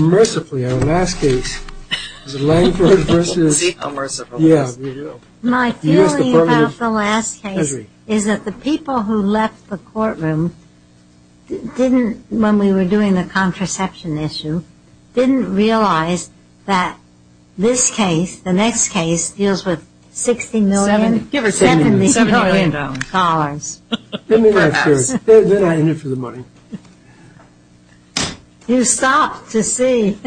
My feeling about the last case is that the people who left the courtroom didn't, when we were doing the contraception issue, didn't realize that this case, the next case, deals with $60 million, $70 million dollars. They're not in it for the money. You stop to see.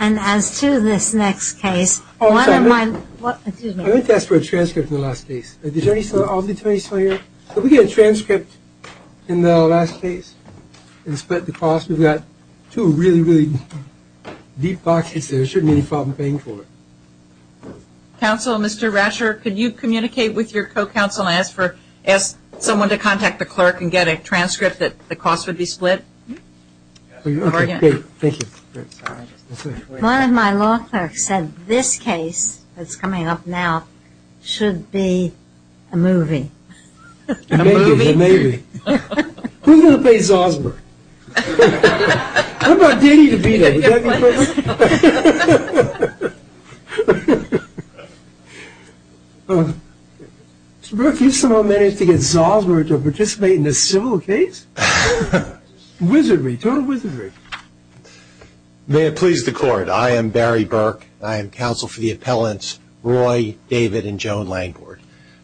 And as to this next case, one of my... I'd like to ask for a transcript of the last case. I'll be 24 years. If we get a transcript in the last case and split the cost, we've got two really, really deep boxes there. There shouldn't be any problem paying for it. Counsel, Mr. Rasher, can you communicate with your co-counsel and ask someone to contact the clerk and get a transcript that the cost would be split? Okay, thank you. One of my law clerks said this case, that's coming up now, should be a movie. Maybe. Who's going to pay Zalsberg? How about Diddy to be there? Does that make sense? Mr. Burke, you still don't manage to get Zalsberg to participate in this civil case? Wizardry, total wizardry. May it please the court, I am Barry Burke. I am counsel for the appellants Roy, David, and Joan Langford.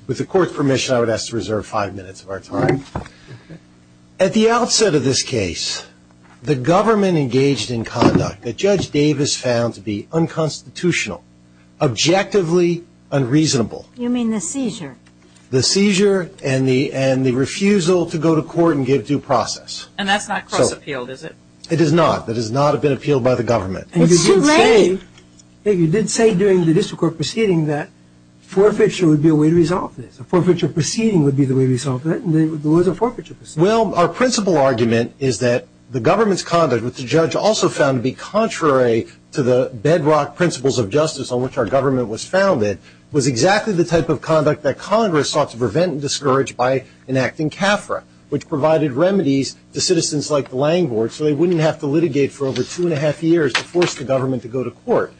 With the court's permission, I would ask to reserve five minutes of our time. At the outset of this case, the government engaged in conduct that Judge Davis found to be unconstitutional, objectively unreasonable. You mean the seizure? The seizure and the refusal to go to court and give due process. And that's not cross-appealed, is it? It is not. It has not been appealed by the government. You did say during the district court proceeding that forfeiture would be a way to resolve this. A forfeiture proceeding would be the way to resolve this, and there was a forfeiture proceeding. Well, our principal argument is that the government's conduct, which the judge also found to be contrary to the bedrock principles of justice on which our government was founded, was exactly the type of conduct that Congress sought to prevent and discourage by enacting CAFRA, which provided remedies to citizens like the Langfords so they wouldn't have to litigate for over two and a half years to force the government to go to court.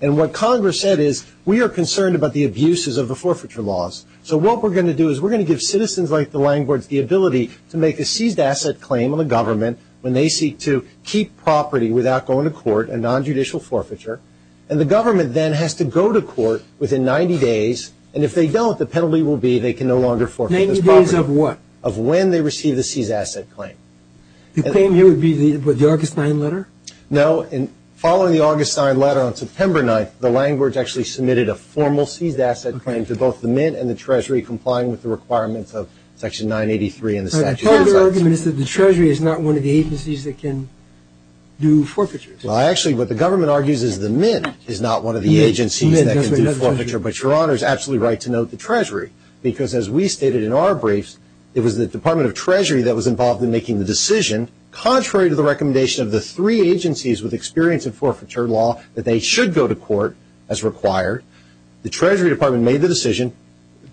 And what Congress said is, we are concerned about the abuses of the forfeiture laws. So what we're going to do is we're going to give citizens like the Langfords the ability to make a seized asset claim on the government when they seek to keep property without going to court, a nonjudicial forfeiture. And the government then has to go to court within 90 days, and if they don't, the penalty will be they can no longer forfeit. Ninety days of what? After they receive the seized asset claim. The claim here would be the Augustine letter? No, and following the Augustine letter on September 9th, the Langfords actually submitted a formal seized asset claim to both the Mint and the Treasury, complying with the requirements of Section 983 in the Statute of Rights. So the argument is that the Treasury is not one of the agencies that can do forfeiture. Well, actually, what the government argues is the Mint is not one of the agencies that can do forfeiture, but Your Honor is absolutely right to note the Treasury, because as we stated in our briefs, it was the Department of Treasury that was involved in making the decision, contrary to the recommendation of the three agencies with experience in forfeiture law, that they should go to court as required. The Treasury Department made the decision.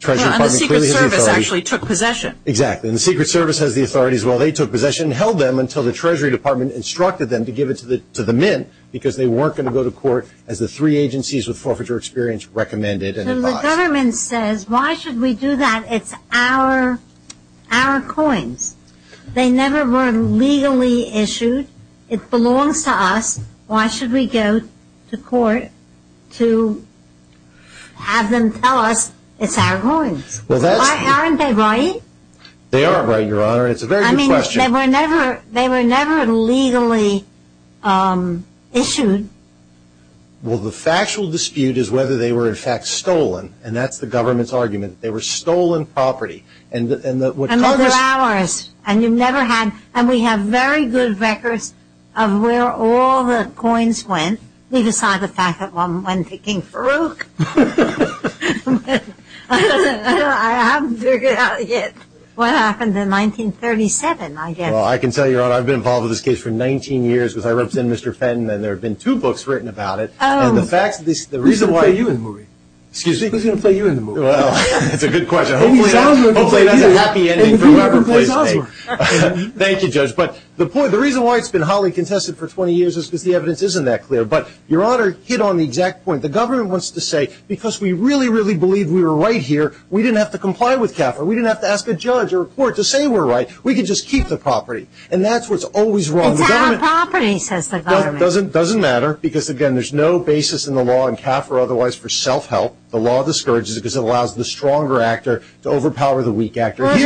And the Secret Service actually took possession. Exactly, and the Secret Service has the authority as well. They took possession and held them until the Treasury Department instructed them to give it to the Mint, because they weren't going to go to court as the three agencies with forfeiture experience recommended. So the government says, why should we do that? It's our coins. They never were legally issued. It belongs to us. Why should we go to court to have them tell us it's our coins? Aren't they right? They are right, Your Honor, and it's a very good question. They were never legally issued. Well, the factual dispute is whether they were in fact stolen, and that's the government's argument. They were stolen property. And those are ours, and we have very good records of where all the coins went. We just saw the fact that one went to King Farouk. I haven't figured it out yet. What happened in 1937, I guess? Well, I can tell you, Your Honor, I've been involved in this case for 19 years because I represent Mr. Fenton, and there have been two books written about it. Excuse me, who's going to play you in the movie? That's a good question. Thank you, Judge. But the reason why it's been hotly contested for 20 years is because the evidence isn't that clear. But, Your Honor, to hit on the exact point, the government wants to say, because we really, really believe we were right here, we didn't have to comply with capital. We didn't have to report to say we were right. We could just keep the property. And that's what's always wrong. It's not a property, says the government. It doesn't matter because, again, there's no basis in the law in cap or otherwise for self-help. The law discourages it because it allows the stronger actor to overpower the weak actor. You've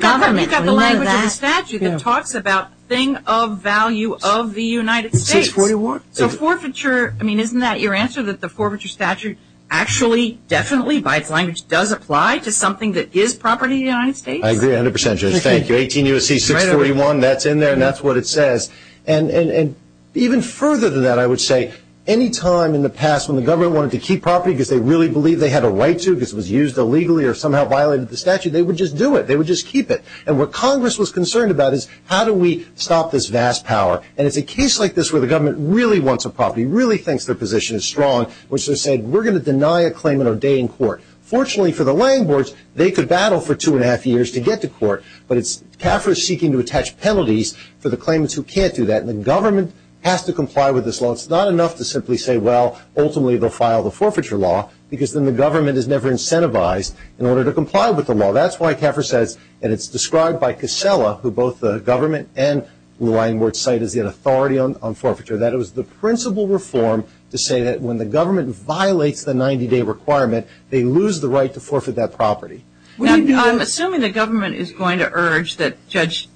got the language of the statute that talks about thing of value of the United States. The forfeiture, I mean, isn't that your answer, that the forfeiture statute actually, definitely, by its language, does apply to something that is property of the United States? I agree 100 percent, Judge. Thank you. 18 U.S.C. 641, that's in there, and that's what it says. And even further than that, I would say, any time in the past when the government wanted to keep property because they really believed they had a right to, because it was used illegally or somehow violated the statute, they would just do it. They would just keep it. And what Congress was concerned about is how do we stop this vast power? And it's a case like this where the government really wants a property, really thinks their position is strong, which they're saying, we're going to deny a claim and ordain in court. Fortunately, for the language, they could battle for two and a half years to get to court. But it's, CAFRA is seeking to attach penalties for the claims who can't do that. And the government has to comply with this law. It's not enough to simply say, well, ultimately, they'll file the forfeiture law, because then the government is never incentivized in order to comply with the law. That's why CAFRA says, and it's described by Casella, who both the government and language cited the authority on forfeiture, that it was the principal reform to say that when the government violates the 90-day requirement, they lose the right to forfeit that property. I'm assuming the government is going to urge that Judge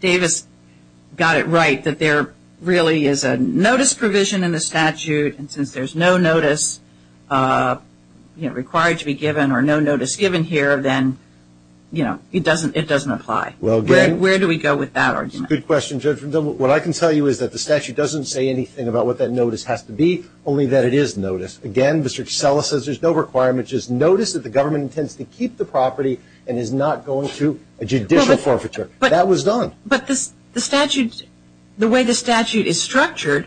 Davis got it right, that there really is a notice provision in the statute, and since there's no notice required to be given or no notice given here, then it doesn't apply. Where do we go with that argument? Good question, Judge. I'm not going to say anything about what that notice has to be, only that it is notice. Again, Mr. Casella says there's no requirement. It's just notice that the government intends to keep the property and is not going through a judicial forfeiture. That was done. But the statute, the way the statute is structured,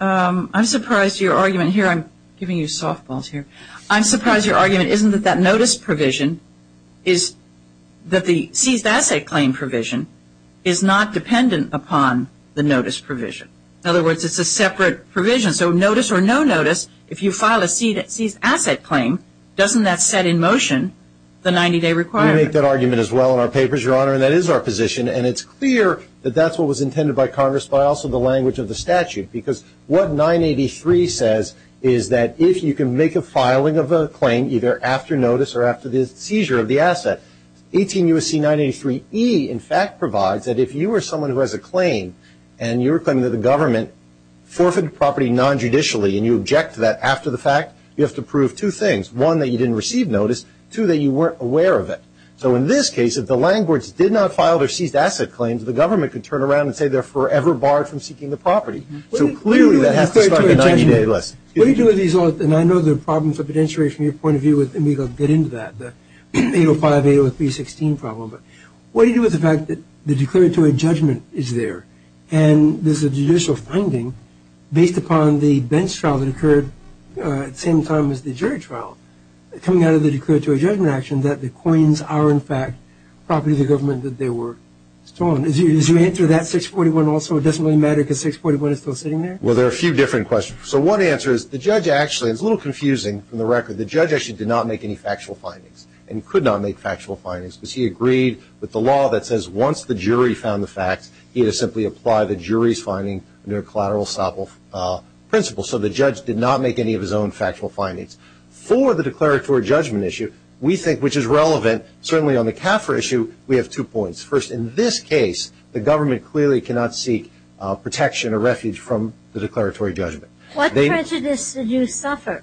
I'm surprised your argument here, I'm giving you softballs here, I'm surprised your argument isn't that that notice provision is, that the seized asset claim provision is not dependent upon the notice provision. In other words, it's a separate provision. So notice or no notice, if you file a seized asset claim, doesn't that set in motion the 90-day requirement? We make that argument as well in our papers, Your Honor, and that is our position, and it's clear that that's what was intended by Congress, but also the language of the statute, because what 983 says is that if you can make a filing of a claim, either after notice or after the seizure of the asset, 18 U.S.C. 983E in fact provides that if you are someone who has a claim and you're claiming that the government forfeited the property non-judicially and you object to that after the fact, you have to prove two things. One, that you didn't receive notice. Two, that you weren't aware of it. So in this case, if the landlords did not file their seized asset claims, the government could turn around and say they're forever barred from seeking the property. So clearly that has to be on the 90-day list. Let me do a result, and I know there are problems with the denaturation from your point of view, and we can get into that. 805, 803, 316 problem. What do you do with the fact that the declaratory judgment is there, and there's a judicial finding based upon the bench trial that occurred at the same time as the jury trial, coming out of the declaratory judgment action that the coins are in fact property of the government that they were stolen. Did you answer that 641 also? It doesn't really matter because 641 is still sitting there? Well, there are a few different questions. So one answer is the judge actually, it's a little confusing from the record, but the judge actually did not make any factual findings, and could not make factual findings, because he agreed with the law that says once the jury found the fact, he would simply apply the jury's finding to a collateral principle. So the judge did not make any of his own factual findings. For the declaratory judgment issue, we think, which is relevant, certainly on the CAFRA issue, we have two points. First, in this case, the government clearly cannot seek protection or refuge from the declaratory judgment. What prejudice did you suffer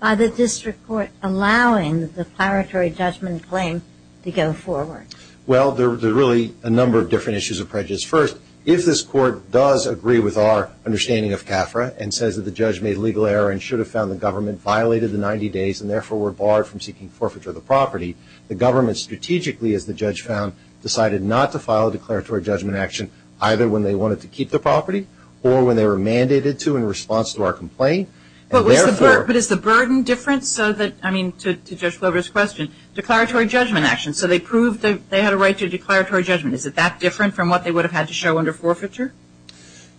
by the district court allowing the declaratory judgment claim to go forward? Well, there are really a number of different issues of prejudice. First, if this court does agree with our understanding of CAFRA and says that the judge made a legal error and should have found the government violated the 90 days and therefore were barred from seeking forfeiture of the property, the government strategically, as the judge found, either when they wanted to keep the property or when they were mandated to in response to our complaint. But is the burden different to Judge Glover's question? Declaratory judgment action. So they had a right to declaratory judgment. Is it that different from what they would have had to show under forfeiture?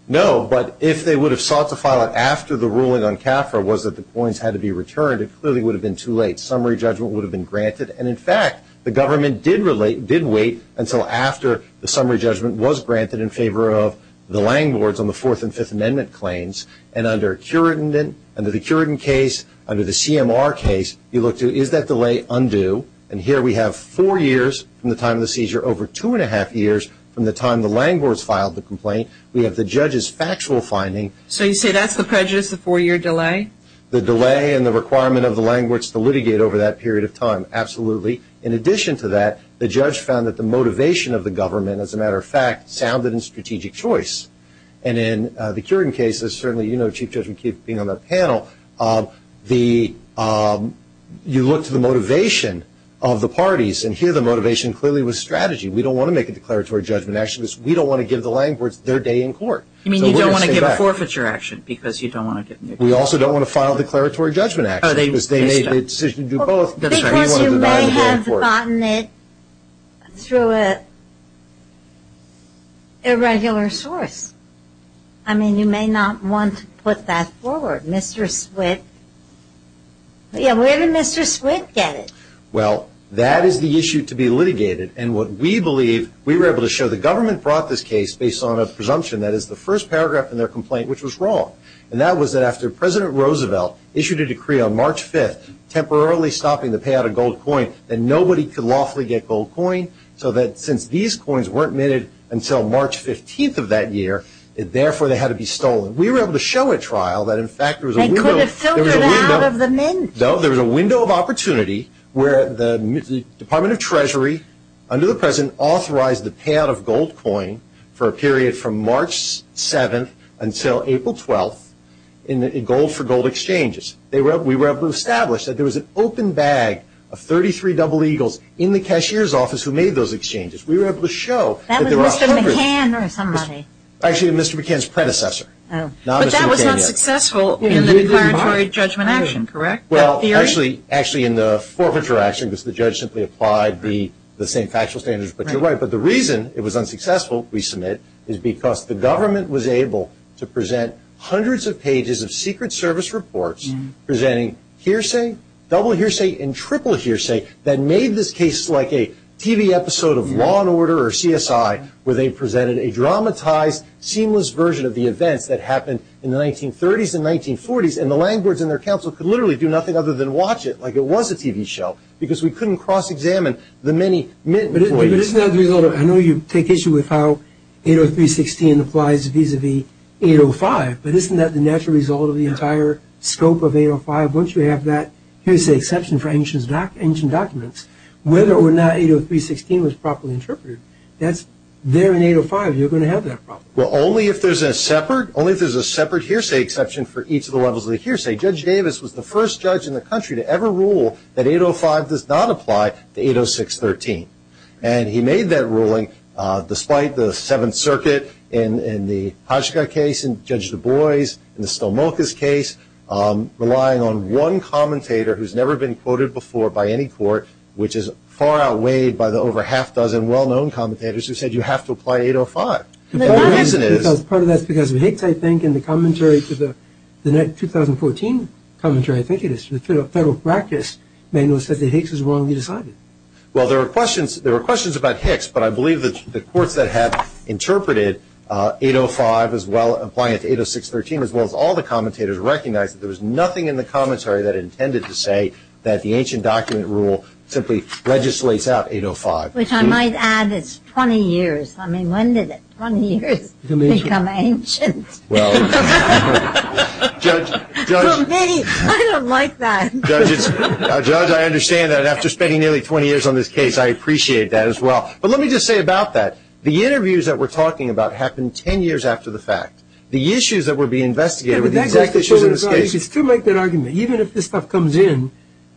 No, but if they would have sought to file it after the ruling on CAFRA was that the points had to be returned, it clearly would have been too late. Summary judgment would have been granted. And in fact, the government did wait until after the summary judgment was granted in favor of the landlords on the Fourth and Fifth Amendment claims. And under the Curidan case, under the CMR case, you look to, is that delay undue? And here we have four years from the time of the seizure over two and a half years from the time the landlords filed the complaint. We have the judge's factual finding. So you say that's the prejudice, the four-year delay? The delay and the requirement of the landlords to litigate over that period of time, absolutely. In addition to that, the judge found that the motivation of the government, as a matter of fact, sounded in strategic choice. And in the Curidan case, certainly you know, Chief Judge, you keep being on that panel, you look to the motivation of the parties, and here the motivation clearly was strategy. We don't want to make a declaratory judgment action because we don't want to give the landlords their day in court. You mean you don't want to give a forfeiture action because you don't want to give them their day in court. We also don't want to file a declaratory judgment action because they made the decision to do both. Because you may have gotten it through an irregular source. I mean, you may not want to put that forward. Mr. Swift, where did Mr. Swift get it? Well, that is the issue to be litigated. And what we believe, we were able to show the government brought this case based on a presumption, that is the first paragraph in their complaint, which was wrong. And that was that after President Roosevelt issued a decree on March 5th, temporarily stopping the payout of gold coins, that nobody could lawfully get gold coins, so that since these coins weren't minted until March 15th of that year, therefore they had to be stolen. We were able to show at trial that in fact there was a window... They could have filled it out of the mint. No, there was a window of opportunity where the Department of Treasury, under the President, authorized the payout of gold coins for a period from March 7th until April 12th, in gold for gold exchanges. We were able to establish that there was an open bag of 33 double eagles in the cashier's office who made those exchanges. We were able to show... That was Mr. McCann or somebody. Actually, Mr. McCann's predecessor. But that was unsuccessful in the declaratory judgment action, correct? Well, actually in the forfeiture action, because the judge simply applied the same factual standards. But you're right. But the reason it was unsuccessful, we submit, is because the government was able to present hundreds of pages of Secret Service reports presenting hearsay, double hearsay, and triple hearsay that made this case like a TV episode of Law and Order or CSI where they presented a dramatized, seamless version of the event that happened in the 1930s and 1940s. And the language in their counsel could literally do nothing other than watch it like it was a TV show, because we couldn't cross-examine the many... But isn't that the result of... I know you take issue with how 80316 applies vis-à-vis 805, but isn't that the natural result of the entire scope of 805? Once you have that hearsay exception for ancient documents, whether or not 80316 was properly interpreted, that's there in 805. You're going to have that problem. Well, only if there's a separate hearsay exception for each of the levels of the hearsay. Judge Davis was the first judge in the country to ever rule that 805 does not apply to 80613. despite the Seventh Circuit and the Hotchkiss case and Judge Du Bois case, relying on one commentator who's never been quoted before by any court, which is far outweighed by the over half-dozen well-known commentators who said you have to apply 805. Part of that's because of Hicks, I think, in the commentary to the 2014 commentary, I think it is, the Federal Practice Manual says that Hicks is wrong, he decided. Well, there were questions about Hicks, but I believe that the courts that have interpreted 805 as well as applying it to 80613 as well as all the commentators recognized that there was nothing in the commentary that intended to say that the ancient document rule simply legislates out 805. Which I might add, it's 20 years. I mean, when did 20 years become ancient? Well... Judge... I don't like that. Judge, I understand that after spending nearly 20 years on this case, I appreciate that as well. But let me just say about that, the issues that were being investigated were the exact issues of this case. You could make that argument, even if this stuff comes in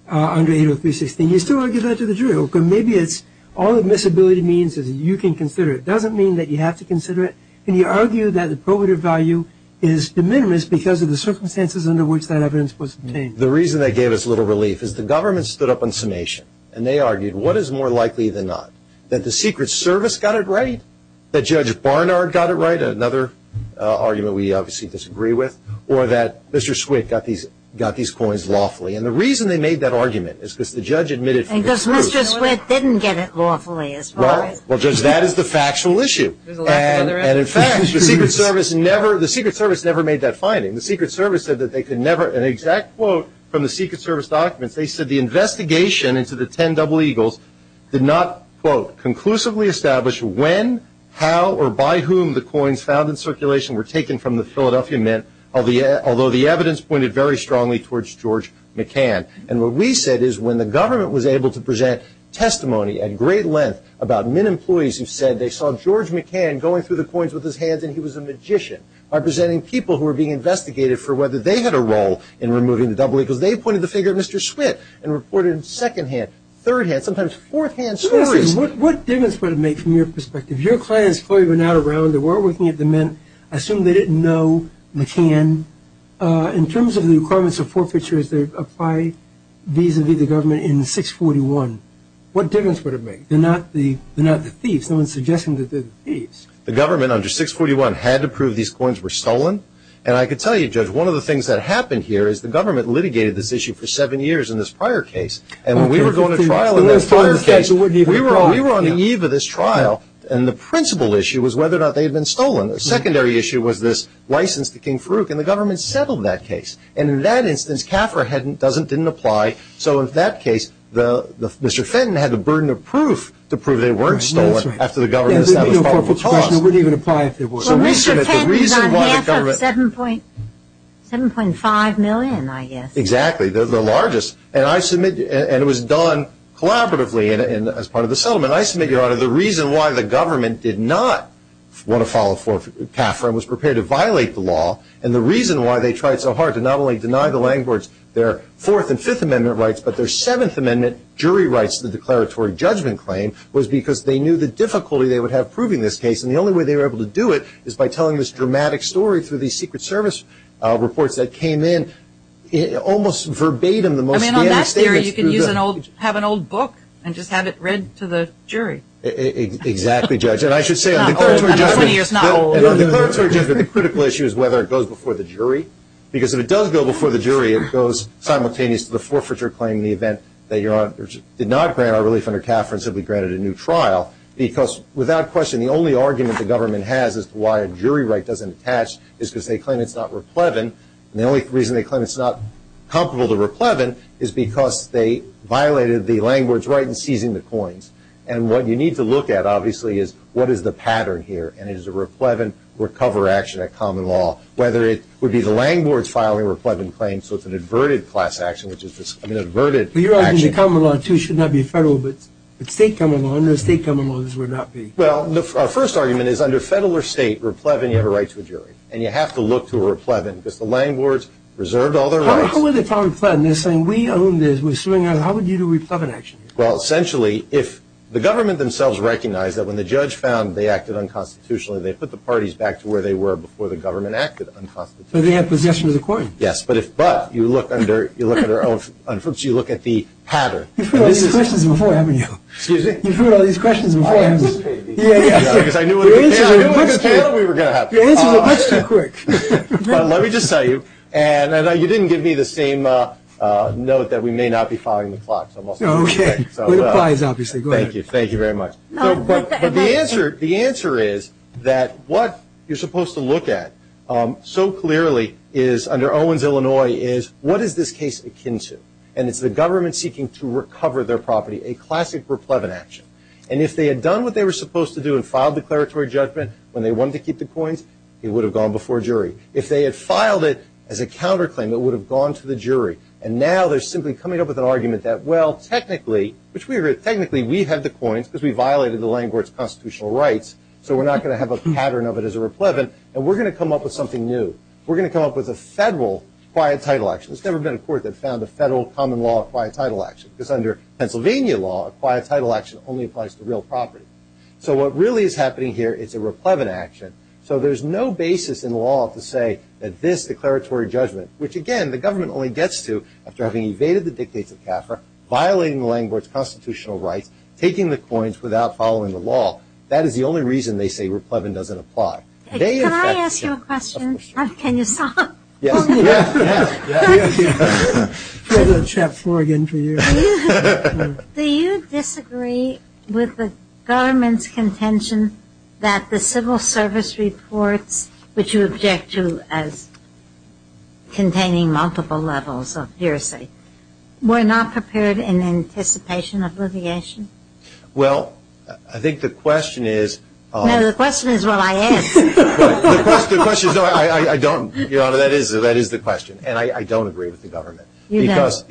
under 80316, you still argue that to the jury. So maybe it's all admissibility means that you can consider it. It doesn't mean that you have to consider it. And you argue that the probative value is de minimis because of the circumstances under which that evidence was made. The reason that gave us a little relief is the government stood up on summation and they argued what is more likely than not? That the Secret Service got it right? Which is an argument we obviously disagree with. Or that Mr. Schwick got these coins lawfully. And the reason they made that argument is because the judge admitted it was true. And because Mr. Schwick didn't get it lawfully as well. No, because that is the factual issue. And in fact, the Secret Service never made that finding. The Secret Service said that they could never, an exact quote from the Secret Service document, they said the investigation into the 10 double eagles did not, quote, conclusively establish when, how, or by whom the coins found in circulation were taken from the Philadelphia Mint. Although the evidence pointed very strongly towards George McCann. And what we said is when the government was able to present testimony at great length about mint employees who said they saw George McCann going through the coins with his hands and he was a magician. By presenting people who were being investigated for whether they had a role in removing the double eagles, they pointed the finger at Mr. Schwick and reported second hand, third hand, sometimes fourth hand stories. What difference would it make from your perspective? Your clients, Chloe, were now around and they didn't know McCann. In terms of the requirements of forfeitures that apply vis-a-vis the government in 641, what difference would it make? They're not the thieves. No one's suggesting that they're the thieves. The government under 641 had to prove these coins were stolen. And I can tell you, Judge, one of the things that happened here is the government litigated this issue for seven years in this prior case. And when we were going to trial in this prior case, we were on the eve of this trial because of this license to King Farouk. And the government settled that case. And in that instance, Caffer didn't apply. So in that case, Mr. Fenton had the burden of proof to prove they weren't stolen after the government settled the problem. It wouldn't even apply if they were. The reason why the government... 7.5 million, I guess. Exactly, the largest. And it was done collaboratively as part of the settlement. The reason why the government did not want to file for Caffer was to violate the law. And the reason why they tried so hard to not only deny the landlords their Fourth and Fifth Amendment rights, but their Seventh Amendment jury rights to the declaratory judgment claim was because they knew the difficulty they would have proving this case. And the only way they were able to do it is by telling this dramatic story through these Secret Service reports that came in almost verbatim. I mean, on that theory, you could have an old book and just have it read to the jury. But the critical issue is whether it goes before the jury. Because if it does go before the jury, it goes simultaneous to the forfeiture claim in the event that your honor did not grant our relief under Caffer and simply granted a new trial. Because, without question, the only argument the government has as to why a jury right doesn't attach is because they claim it's not replevant. And the only reason they claim it's not comparable to replevant is because they violated the landlord's right in seizing the coins. And that's a common law. Whether it would be the landlord's filing a replevant claim so it's an adverted class action, which is just an adverted action. You're arguing the common law, too, should not be federal, but the state common laws would not be. Well, the first argument is under federal or state, replevant, you have a right to the jury. And you have to look to a replevant because the landlord's reserved all their rights. And the government acted unconstitutionally. So the answer is yes to the court. Yes, but you look at the pattern. You've heard all these questions before, haven't you? You've heard all these questions before, haven't you? You answered the question quick. Well, let me just tell you, and I know you didn't give me the same note that we may not be following the plot. No, okay. Thank you. Thank you very much. The answer is that so clearly is, under Owens, Illinois, is what is this case akin to? And it's the government seeking to recover their property, a classic replevant action. And if they had done what they were supposed to do and filed declaratory judgment when they wanted to keep the coins, it would have gone before a jury. If they had filed it as a counterclaim, it would have gone to the jury. And now they're simply coming up with an argument that, well, technically, we're going to come up with something new. We're going to come up with a federal quiet title action. There's never been a court that found a federal common law quiet title action because under Pennsylvania law, a quiet title action only applies to real property. So what really is happening here is a replevant action. So there's no basis in law to say that this declaratory judgment, which, again, the government only gets to after having evaded the dictation of CAFRA, violating the landlord's constitutional right, taking the coins without following the law. That is the only reason they say replevant doesn't apply. Can I ask you a question? Can you stop? Yes, yes. I'm going to check for you. Do you disagree with the government's contention that the civil service report that you object to as containing multiple levels of hearsay were not prepared in anticipation of litigation? Well, the question is... No, the question is what I asked. The question is what I don't... Your Honor, that is the question. And I don't agree with the government because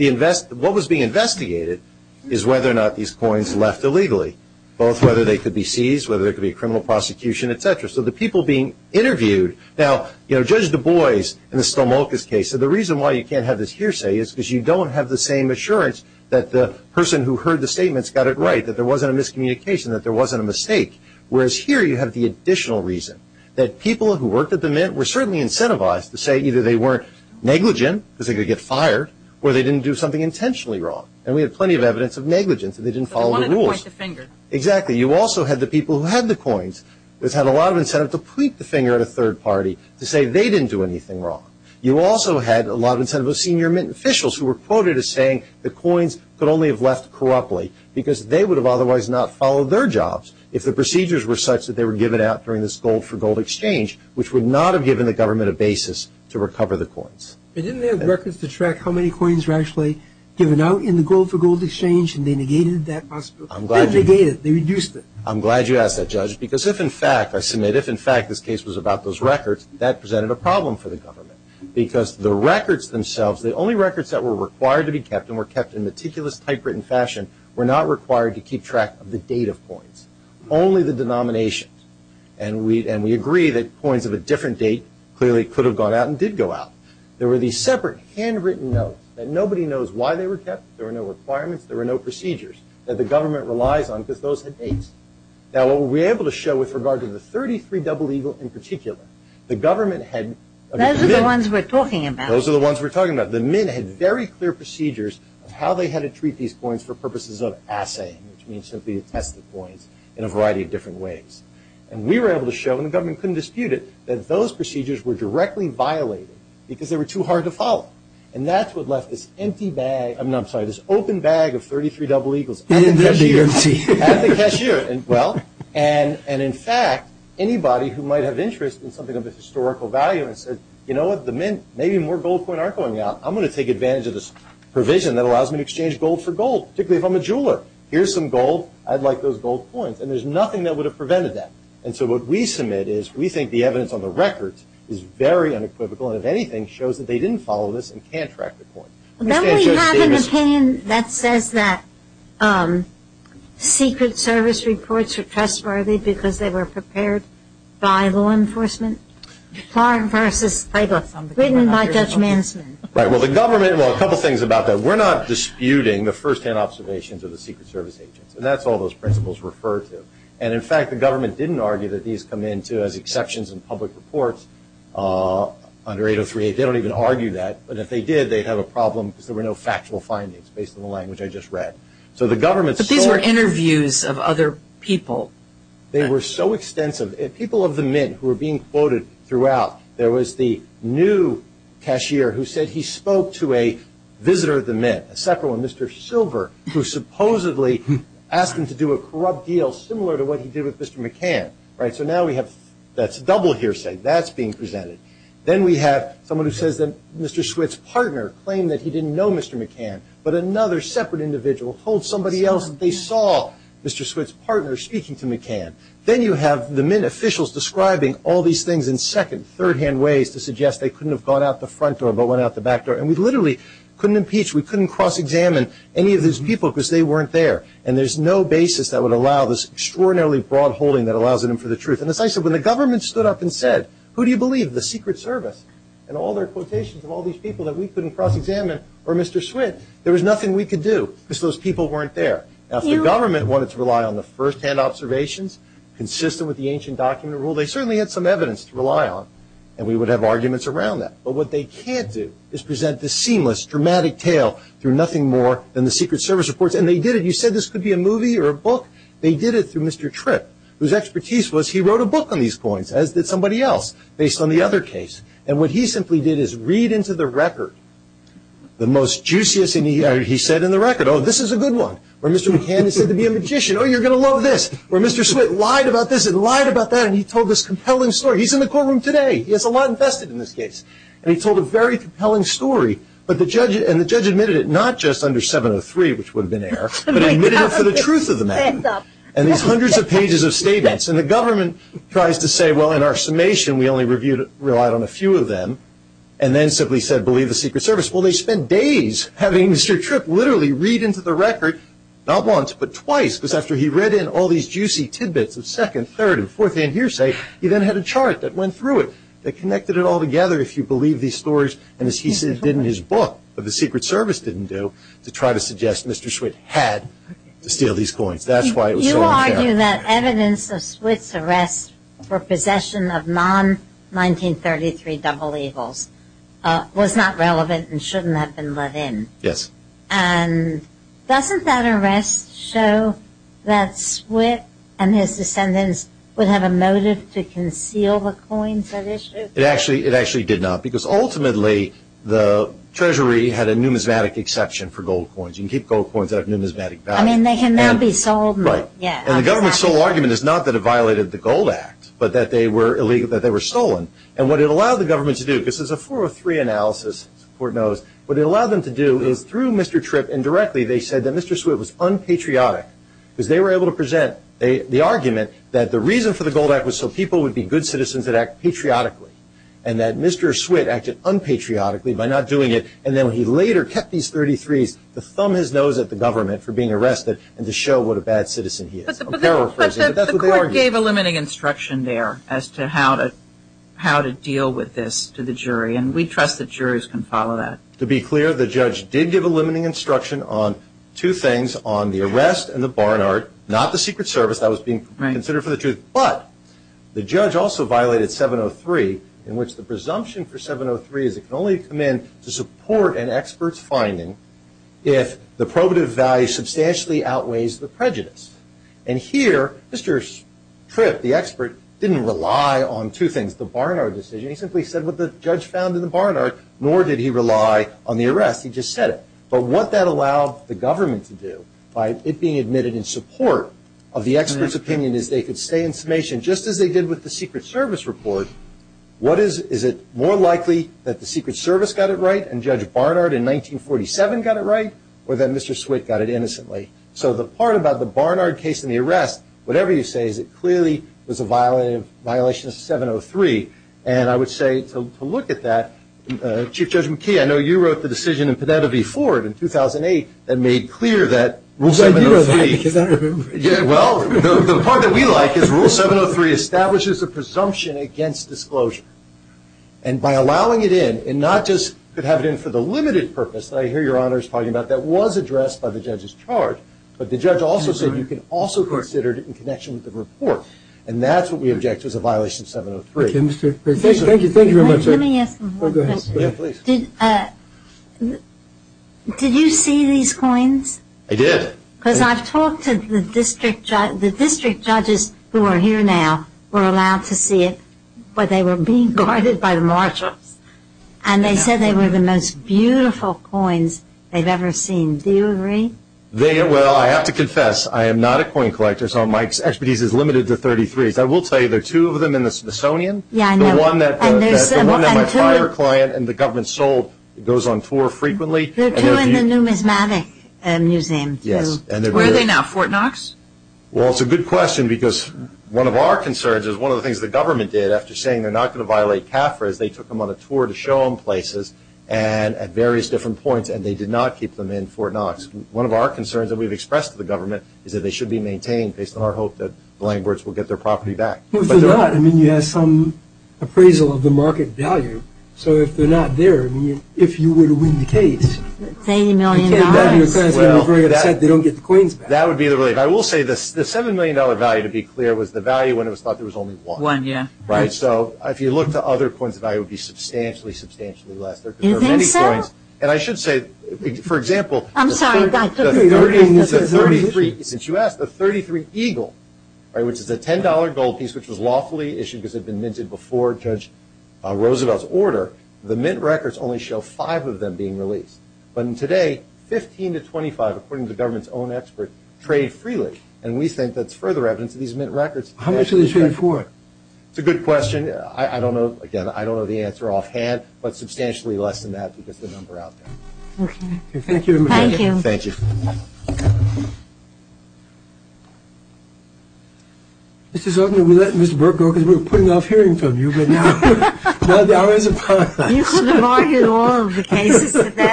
what was being investigated is whether or not these coins were left illegally, whether they could be seized, whether there could be a criminal prosecution, et cetera. So the people being interviewed... Now, Judge Du Bois in the Stomolkas case said the reason why you can't have this hearsay is because you don't have the same assurance that the person who heard the statements got it right, that there wasn't a miscommunication, that there wasn't a mistake. Whereas here you have the additional reason that people who worked at the Mint were certainly incentivized to say either they weren't negligent because they could get fired or they didn't do something intentionally wrong. And we have plenty of evidence of negligence that they didn't follow the rules. They wanted to point the finger. Exactly. You also had the people who had the coins that had a lot of intent to point the finger at a third party to say they didn't do anything wrong. You also had a lot of intent from the senior Mint officials who were quoted as saying the coins could only have left corruptly because they would have otherwise not followed their jobs if the procedures were such that they were given out during this gold-for-gold exchange which would not have given the government a basis to recover the coins. But didn't they have records to track how many coins were actually given out in the gold-for-gold exchange and they negated that process? They negated it. They reduced it. I'm glad you asked that, Judge, because if in fact, I submit, if in fact this case was about those records, that presented a problem for the government because the records themselves, the only records that were required to be kept and were kept in meticulous typewritten fashion were not required to keep track of the date of coins, only the denominations. And we agree that coins of a different date clearly could have gone out and did go out. There were these separate handwritten notes that nobody knows why they were kept, there were no requirements, there were no procedures that the government relies on because those had dates. Now what we were able to show with regard to the 33 double legal in particular, the government had Those are the ones we're talking about. Those are the ones we're talking about. The Mint had very clear procedures of how they had to treat these coins for purposes of assaying, which means simply assessing the coin in a variety of different ways. And we were able to show and the government couldn't dispute it that those procedures were directly violated because they were too hard to follow. And that's what left this empty bag, I'm sorry, this open bag of 33 double legals at the cashier. At the cashier. Well, and in fact, anybody who might have interest in something that has historical value and says, you know what, the Mint, maybe more gold coins aren't going out, I'm going to take advantage of this provision that allows me to exchange gold for gold, particularly if I'm a jeweler. Here's some gold, I'd like those gold coins. And there's nothing that would have prevented that. And so what we submit is we think the evidence on the record is very unequivocal and if anything shows that they didn't follow this and can't track the coins. Then we have an opinion that says that secret service reports are trustworthy because they were prepared by law enforcement. Far in front of this paper. Written by Judge Manson. Right. Well, the government, well, a couple things about that. We're not disputing the first-hand observations of the secret service agents. And that's all those principles refer to. And in fact, the government didn't argue that these come into as exceptions in public reports under 803A. They don't even argue that. But if they did, they'd have a problem because there were no factual findings based on the language I just read. So the government But these were interviews of other people. They were so extensive. People of the Mint who were being quoted throughout. There was the new cashier who said he spoke to a visitor of the Mint. A separate one. Mr. Silver. Who supposedly asked him to do a corrupt deal similar to what he did with Mr. McCann. Right. So now we have that's double hearsay. That's being presented. Then we have someone who says that Mr. Swit's partner claimed that he didn't know Mr. McCann. But another separate individual told somebody else that they saw Mr. Swit's partner speaking to McCann. Then you have the Mint officials describing all these things in second third-hand ways to suggest they couldn't have gone out the front door but went out the back door. And we literally couldn't impeach we couldn't cross-examine any of his people because they weren't there. And there's no basis that would allow this extraordinarily broad holding that allows him for the truth. When the government stood up and said who do you believe? The Secret Service. And all their quotations of all these people that we couldn't cross-examine were Mr. Swit. There was nothing we could do because those people weren't there. Now if the government wanted to rely on the first-hand observations consistent with the ancient document rule they certainly had some evidence to rely on. And we would have arguments around that. But what they can't do is present the seamless dramatic tale through nothing more than the Secret Service reports. And they did it. You said this could be a movie or a book. They did it through Mr. Tripp whose expertise was he wrote a book on these points as did somebody else based on the other case. And what he simply did is read into the record the most juiciest thing he said in the record. Oh this is a good one. Or Mr. McCann said to be a magician. Oh you're going to love this. Or Mr. Swit lied about this and lied about that and he told this compelling story. He's in the courtroom today. He has a lot infested in this case. And he told a very compelling story. And the judge admitted it not just under 703 which would have been an error but he admitted it for the truth of the matter. And these hundreds of pages of statements and the government tries to say well in our summation we only relied on a few of them and then simply said believe the Secret Service. Well they spent days having Mr. Tripp literally read into the record not once but twice because after he read in all these juicy tidbits the second third and fourth and hearsay he then had a chart that went through it. They connected it all together if you believe these stories and as he says did in his book but the Secret Service didn't do to try to suggest Mr. Swit had to steal these coins. That's why you argue that evidence of Swit's arrest for possession of non-1933 double eagles was not relevant and shouldn't have been let in. Yes. And doesn't that arrest show that Swit and his descendants would have a motive to conceal the coins that issue? It actually did not because ultimately the treasury had a numismatic exception for gold coins and keep gold coins that have numismatic value. I mean they can now be sold and the government's sole argument is not that it violated the gold act but that they were illegal, that they were stolen and what it allowed the government to do this is a 403 analysis the court knows what it allowed them to do was through Mr. Tripp and directly they said that Mr. Swit was unpatriotic because they were able to present the argument that the reason for the gold act was so people would be good citizens that acted patriotically and that Mr. Swit acted unpatriotically by not doing it and then he later kept these 33's to thumb his nose at the government for being arrested and to show what a bad citizen he is. But the court gave a limiting instruction there as to how to deal with this to the jury and we trust that juries can follow that. To be clear the judge did give a limiting instruction on two things on the arrest and the Barnard not the secret service that was being considered for the truth but the judge also violated 703 in which the presumption for 703 is it can only come in to support an expert's finding if the probative value substantially outweighs the prejudice and here Mr. Tripp the expert didn't rely on two things the Barnard decision he simply said what the judge found in the Barnard nor did he rely on the arrest he just said it but what that allowed the government to do by it being admitted in support of the expert's opinion is they could stay in summation just as they did with the secret service report what is is it more likely that the secret service got it right and Judge Barnard in 1947 got it right or that Mr. Swick got it innocently so the part about the Barnard case and the arrest whatever you say is it clearly was a violation of 703 and I would say to look at that Chief Judge McKee I know you wrote the decision in Penelope Ford in 2008 that made clear that rule 703 well the part that we like is rule 703 establishes the presumption against disclosure and by allowing it in and not just could have it in for the limited purpose that I hear your honors talking about that was addressed by the judge's charge but the judge also said you can also consider it in connection with the report and that's what we object to as a violation of 703 thank you very much sir let me ask did you see these coins I did because I talked to the district judges who are here now were allowed to see it but they were being guarded by the marshals and they said they were the most beautiful coins they've ever seen do you agree they well I have to confess I am not a coin collector so my expertise is limited to 33 but I will tell you there are two of them in the Smithsonian yeah I know the one that my prior client and the government sold those on tour frequently there are two in the numismatic museum yes where are they now Fort Knox well it's a good question because one of our concerns is one of the things the government did after saying they're not going to violate TAFRA is they took them on a tour to show them places and at various different points and they did not keep them in Fort Knox one of our concerns that we've expressed to the government is that they should be maintained based on our hope that the landlords will get their property back well if they're not you have some appraisal of the market value so if they're not there if you were to win the case $10 million that would be the rate I will say the $7 million value to be clear was the value when it was thought there was only one one yeah right so if you look to other coins the value would be substantially substantially less and I should say for example I'm sorry the 33 since you asked the 33 Eagle which is a $10 gold piece which was lawfully issued because it had been minted before Judge Roosevelt's order the mint records only show five of them being released but in today 15 to 25 according to government's own experts trade freely and we think that's further evidence of these mint records how much do they stand for it's a good question I don't know again I don't know the answer offhand but substantially less than that to get the number out there okay thank you thank you thank you okay this is the we're putting off hearing from you the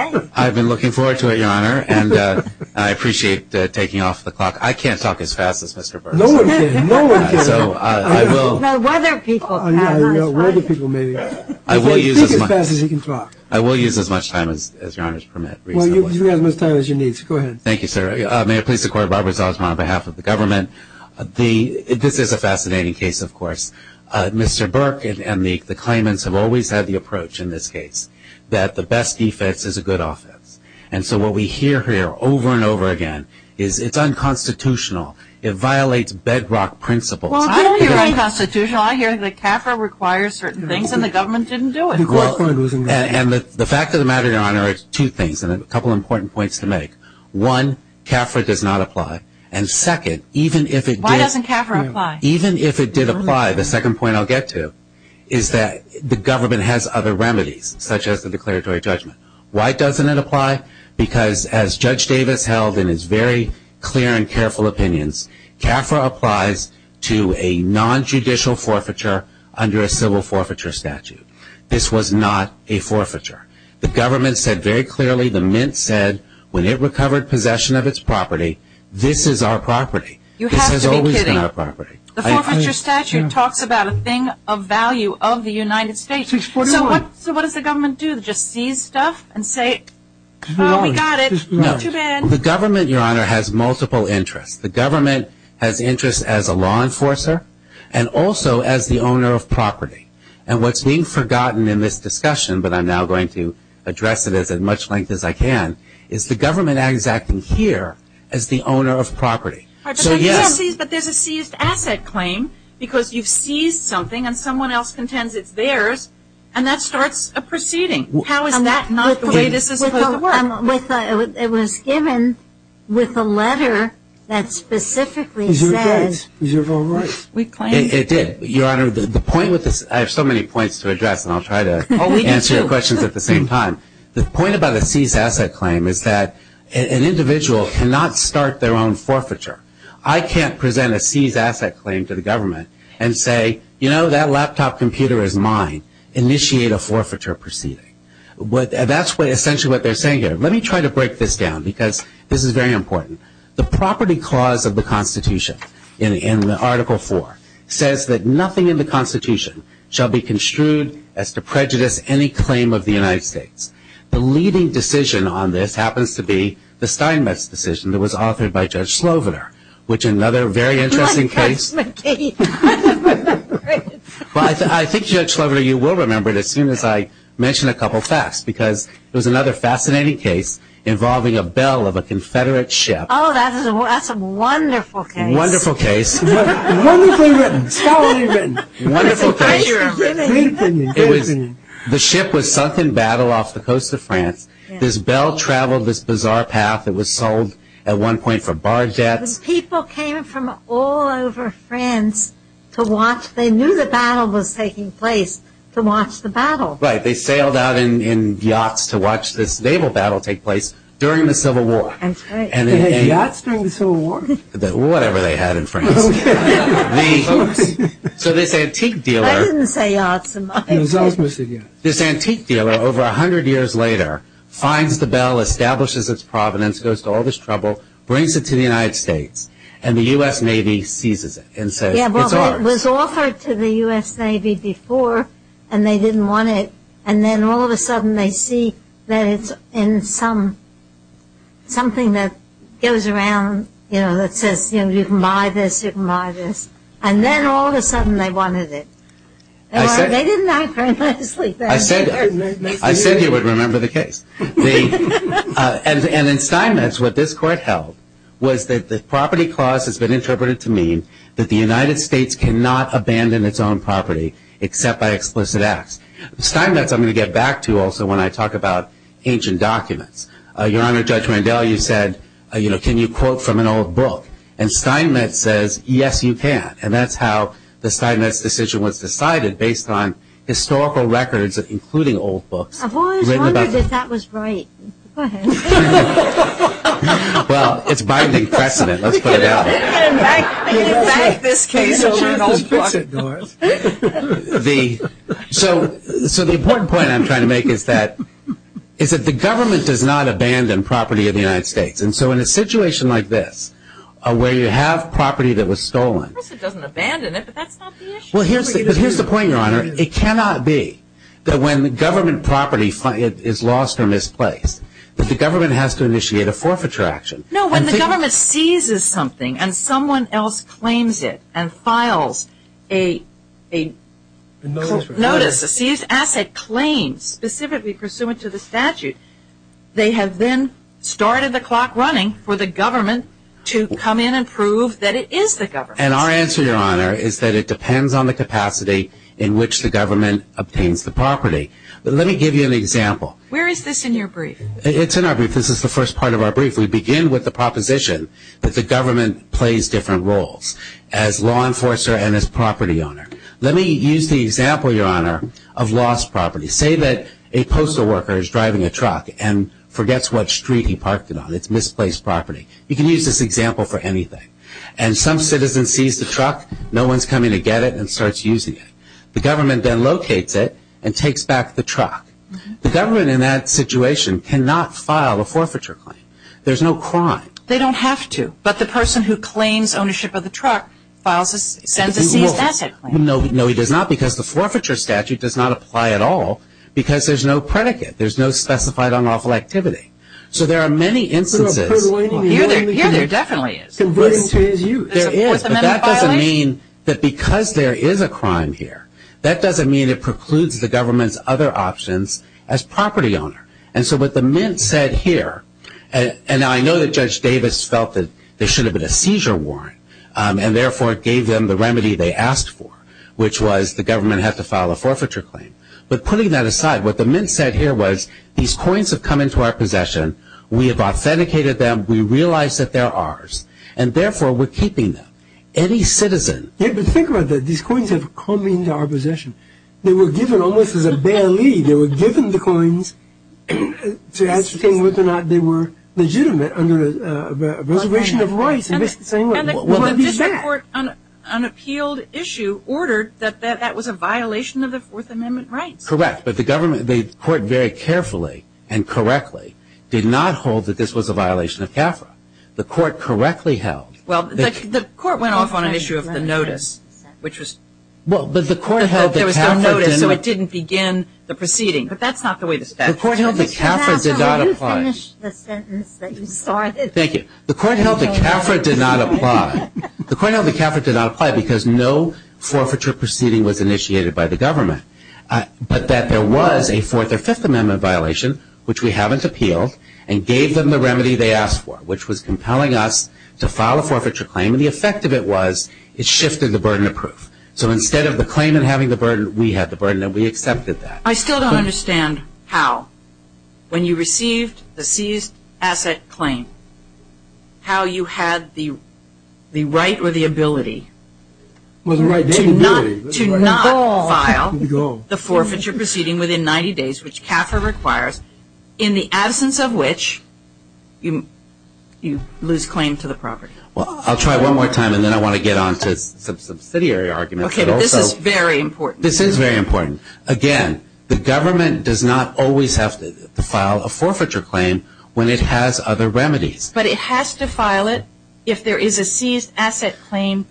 in or I've been looking forward to it I appreciate taking off the I can't talk as fast qualified I'll give you as much time on behalf of the government and the this is a fascinating case of course Mr. Burke and the claimants have always had the approach in this case that the best defense is a good office and so what we hear here over and over again is it's unconstitutional it violates bedrock principles I hear CAFRA requires certain things and the government didn't do it and the fact of the matter is two things one CAFRA does not apply and second even if it did apply the second point I'll get to is that the government has other remedies such as the declaratory judgment why doesn't it apply because as Judge Davis held in his very clear and careful opinions CAFRA applies to a nonjudicial forfeiture under a civil forfeiture statute this was not a forfeiture the government said very clearly the Mint said when it recovered possession of its property this is our property it has always been property the government has multiple interests the government has interests as a law enforcer and also as the owner of property and what is being forgotten in this discussion but I'm now going to address it as much length as I can is the government acting here as the owner of property there is a seized asset claim because you seized something and someone else contends it is theirs and that person starts a proceeding how is that not the way this is supposed to work it was given with a letter that specifically says we claim it did your honor I have so many points to address and I'll try to answer your questions at the same time the point about a seized asset claim is that an individual cannot start their own forfeiture I can't present a seized asset claim to the government and say that laptop computer is mine initiate a forfeiture proceeding let me try to break this down the property clause of the constitution says that nothing in the constitution shall be construed as to prejudice any claim of the United States the leading decision was offered by judge Slovener another interesting case involving a bell of a confederate ship wonderful case wonderful case the ship was sunk in battle off the coast of France this bell traveled this bizarre path sold for bar debt people came from all over France to watch they knew the battle was taking place to watch the battle they sailed out in yachts to watch the naval battle during the civil war this antique dealer over 100 years later finds the bell establishes its provenance brings it to the United States and the U.S. seizes it. It was offered to the U.S. Navy before and they didn't want it and then all of a sudden they see that it's in something that goes around that says you can buy this you can buy this and then all of a sudden they wanted it. They didn't ask for it. I said you would remember the case. And in Steinmetz what this court held was that the property clause has been interpreted to mean that the United States cannot abandon its own property except by explicit acts. Steinmetz I'm going to get back to when I talk about ancient documents. Your Honor, I'm going to get back to when I talk about ancient documents. The important point I'm trying to make is that the government does not abandon property of the United States. In a situation like this where you have property that was stolen here's the point, it cannot be that when the government property is lost from its place that the government has to initiate a forfeiture action. No, when the government seizes something and someone else claims it and files a notice, a seized asset claim specifically pursuant to the statute, they have then started the clock running for the government. This is the way in which the government obtains the property. Let me give you an example. This is the first part of our brief. We begin with the proposition that the government plays different roles. Let me use the example of lost property. Say a postal company lost property. The government then locates it and takes back the truck. The government in that cannot file a forfeiture claim. There is no crime. They don't have to, but the person who claims ownership of the truck cannot file that. The forfeiture statute does not apply at all because there is no predicate. There are many instances. That doesn't mean that because there is a crime here, that doesn't mean it precludes the government's other options as property owner. The government has to file a forfeiture claim. Putting that aside, these coins have come into our We have authenticated them. We realize that they are ours. We are keeping them. Any citizen can keep them. These coins have come into our possession. They were given the coins to ascertain whether or not they were legitimate under a reservation of rights. This court ordered that was a violation of the Fourth Amendment right. The court very carefully and correctly did not hold that this was a violation of CAFRA. The court correctly held that this was a violation of the Fourth Amendment right. The court held that CAFRA did not apply because no forfeiture proceeding was initiated by the government, but that there was a Fourth Amendment violation and gave them the remedy they asked for, which was compelling us to file a forfeiture claim. The effect of it was it shifted the burden of proof. So instead of the claim and having the burden we had, we accepted that. I still don't understand how when you received the seized asset claim, how you had the right or the ability to not file the forfeiture proceeding within 90 days, which CAFRA requires, in the absence of which you lose claim to the property. I'll try it one more time and then I want to get on to subsidiary arguments. This is very important. Again, the government does not always have to file a forfeiture claim when it has other remedies. But it has to file it if there is a seized asset claim.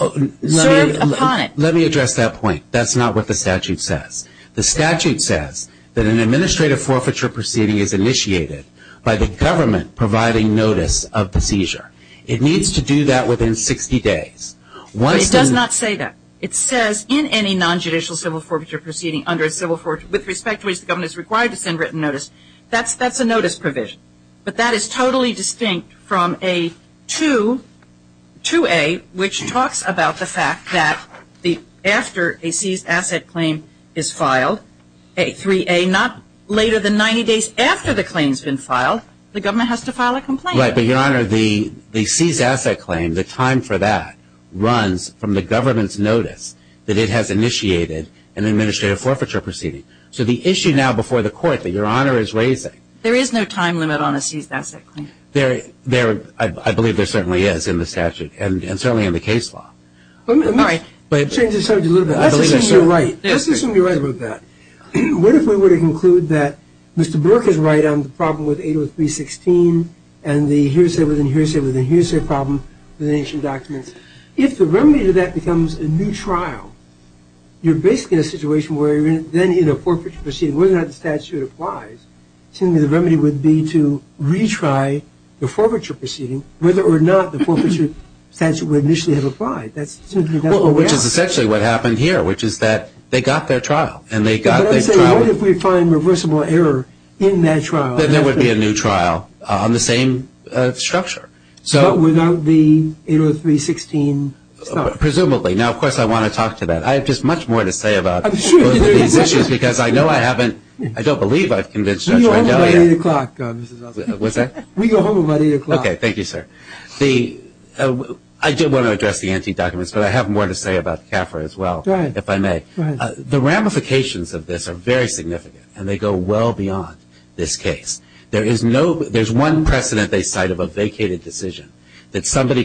Let me address that point. That's not what the statute says. The statute says that an administrative forfeiture proceeding is initiated by the government providing notice of the seizure. It needs to do that within 60 days. It does not say that. It says in any nonjudicial civil forfeiture proceeding with respect to which the government is required to send written notice. That is totally distinct from a 2A which talks about the fact that after a seized asset claim is filed, the government has to file a complaint. The seized asset claim, the time for that runs from the government's notice that it has initiated an administrative forfeiture proceeding. The issue now before the court that your honor is raising. I believe there certainly is in the statute and certainly in the case law. If the remedy to that becomes a new trial, you are basically in a situation where the statute applies. The remedy would be to retry the forfeiture proceeding whether or not the statute would initially have applied. That is essentially what happened here. They got their trial. be a new trial on the same structure. Presumably. I want to talk to that. I have much more to say about these issues. I don't believe I convinced them. I did want to address the issue. The ramifications of this are very significant. They go well beyond this case. There is one precedent they cite about vacated decisions. No authority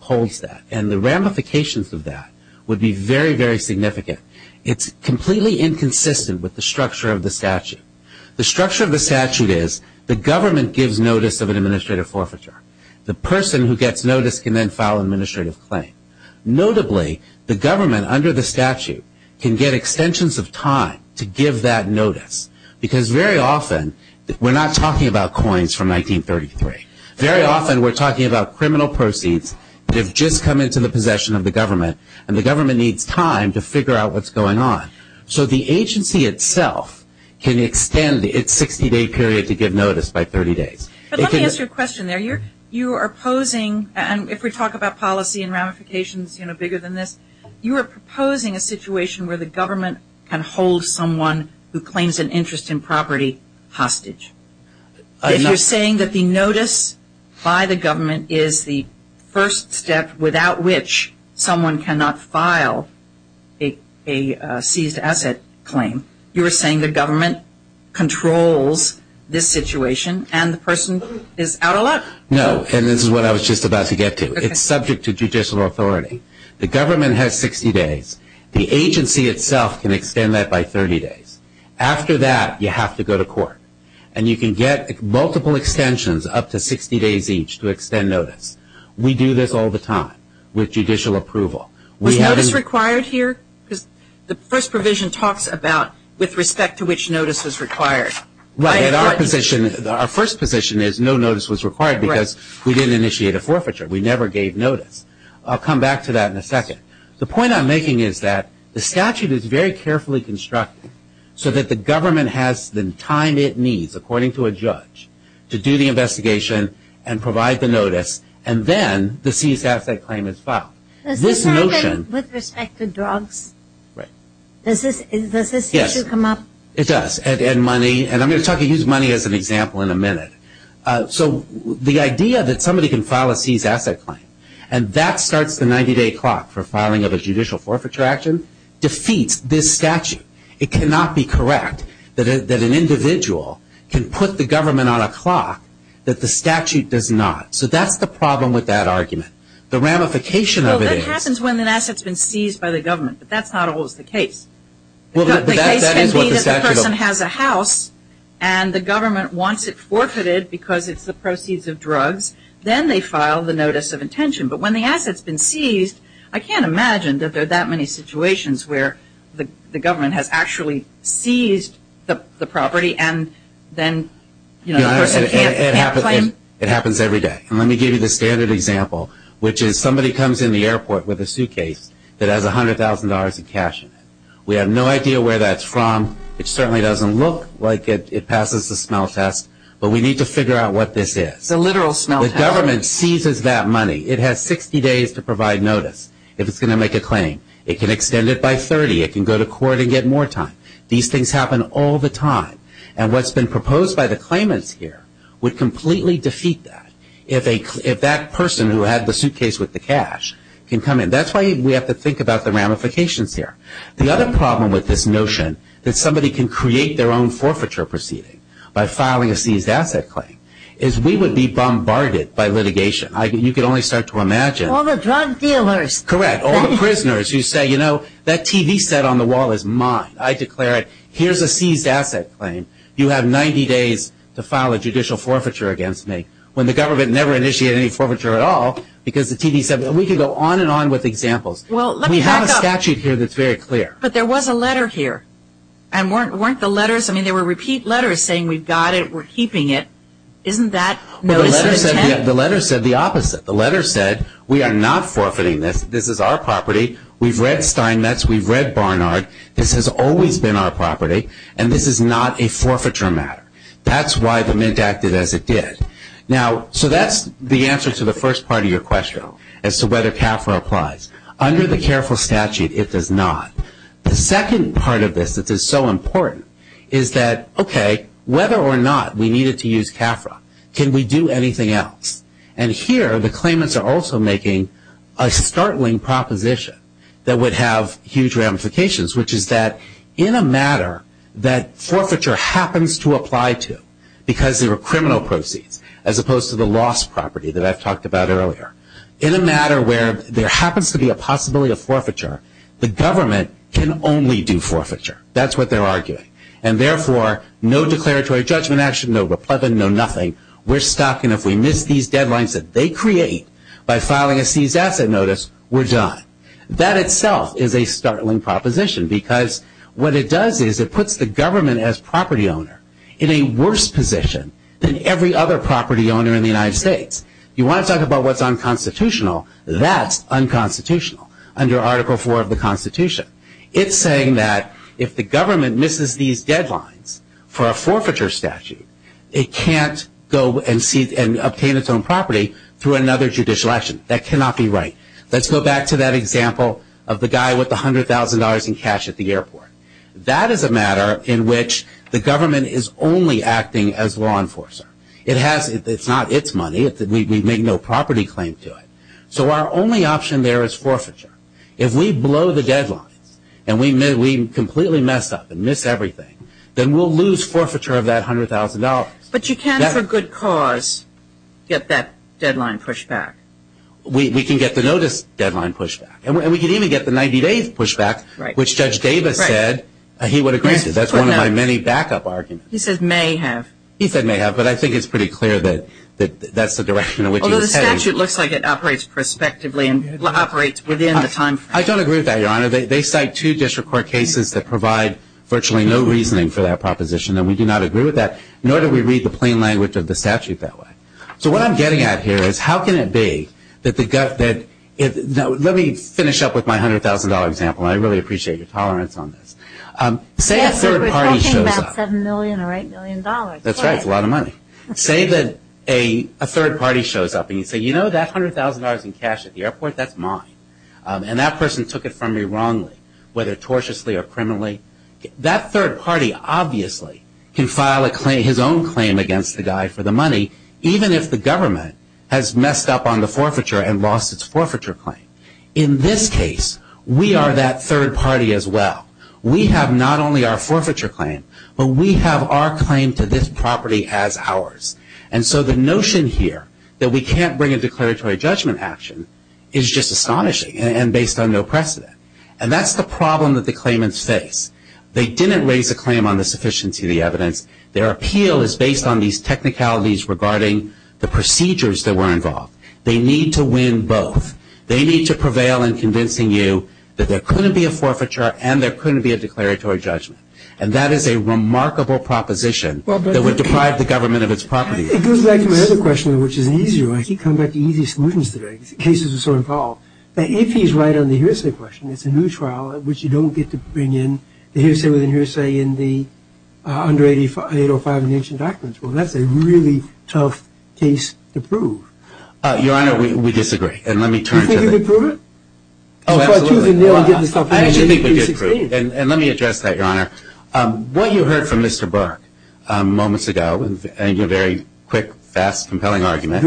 holds that. The ramifications of that would be very significant. It is completely inconsistent with the structure of the statute. The person who gets notice can file administrative claims. Notably, the government can get extensions of time to give that notice. Very often we are not talking about coins from 1933. We are talking about criminal proceeds. The government needs time to figure out how to do this. You are proposing a situation where the government can hold someone who claims an interest in property hostage. If you are saying the notice by the government is the first step without which someone cannot file a seized asset claim, you are saying the government controls this situation and the person is out of luck? This is what I was about to get to. It is subject to judicial authority. The government has 60 days. The agency can extend that by 30 days. After that you have to go to court. You can get multiple extensions up to 60 days each. We do this all the time with judicial approval. Our first position is no notice was required because we did not initiate a forfeiture. I will come back to that in a second. The point I am making is the statute is carefully constructed so the government has the time it requires the judge to do the investigation and provide the notice and then the claim is filed. Does this issue come up? It does. I will use money as an example in a minute. The idea that somebody can file a claim and that starts the 90 day clock to defeat this statute. It cannot be correct that an individual can put the government on a clock that the statute does not. That is the problem with that argument. This happens when an asset is seized by the government. That is not always the case. The government wants it forfeited because it is the proceeds of drugs and then they file the notice of the claim. It happens every day. Let me give you the standard example. Somebody comes in the airport with a suitcase that has $100,000 in cash. We have no idea where that is from. It certainly doesn't look like it passes the smell test but we need to figure out what this is. The government seizes that money. It has 60 days to get it back. These things happen all the time. What has been proposed by the claimants would completely defeat that. That is why we have to think about the ramifications here. The other problem is we would be bombarded by litigation. You can only start to imagine. All the prisoners who say that TV set on the wall is mine. You have 90 days to file a judicial forfeiture against me. We can go on and on with examples. We have a statute here that is very clear. There were repeat letters saying we are keeping it. The letter said the opposite. We are not forfeiting this. We have read Barnard. This has always been our property. This is not a forfeiture matter. That is why it acted as it did. That is the answer to the first part of your question. The second part of this is so important. Whether or not we needed to use CAFRA, can we do anything else? The claimants are making a startling proposition that would have huge ramifications. In a matter that forfeiture happens to apply to because there are criminal proceedings as opposed to the lost property. In a matter where there happens to be a possibility of forfeiture, the government can only do forfeiture. Therefore, no declaratory judgment action. We are stuck. If we miss these deadlines, we are done. That is a startling proposition. It puts the government as property owner in a worse position. You want to talk about what is unconstitutional, that is unconstitutional. It is saying that if the government misses these deadlines, it cannot obtain its own property through another judicial action. That cannot be right. Let's go back to that example of the guy with $100,000 in cash at the airport. That is a matter in which the government is only acting as law enforcer. It is not its money. Our only option is forfeiture. If we blow the deadline and get the notice pushback, we can get the 90-day pushback. That is one of my many back-up arguments. I think it is pretty clear that that is the direction. I don't agree with that. They cite two cases that provide no reasoning for that proposition. We do not agree with that, nor do we read the plain language of the statute. Let me finish up with my $100,000 example. Say a third party shows up and you say that $100,000 in cash at the airport is mine. That person took it from me wrongly. That third party obviously can file his own claim against the guy for the money even if the government has messed up on the forfeiture. In this case, we are that third party as well. We have our claim to this property as ours. The notion that we cannot bring a declaratory judgment is just astonishing and based on no precedent. That's the problem that the claimants face. Their appeal is based on the procedures involved. They need to win both. They need to prevail in convincing you that there couldn't be a forfeiture and there couldn't be a declaratory judgment. That's a remarkable proposition. If he is right on the hearsay question, it's a new trial. That's a really tough case to prove. Your Honor, we disagree. What you heard from Mr. Burke moments ago and your very quick, fast, compelling argument,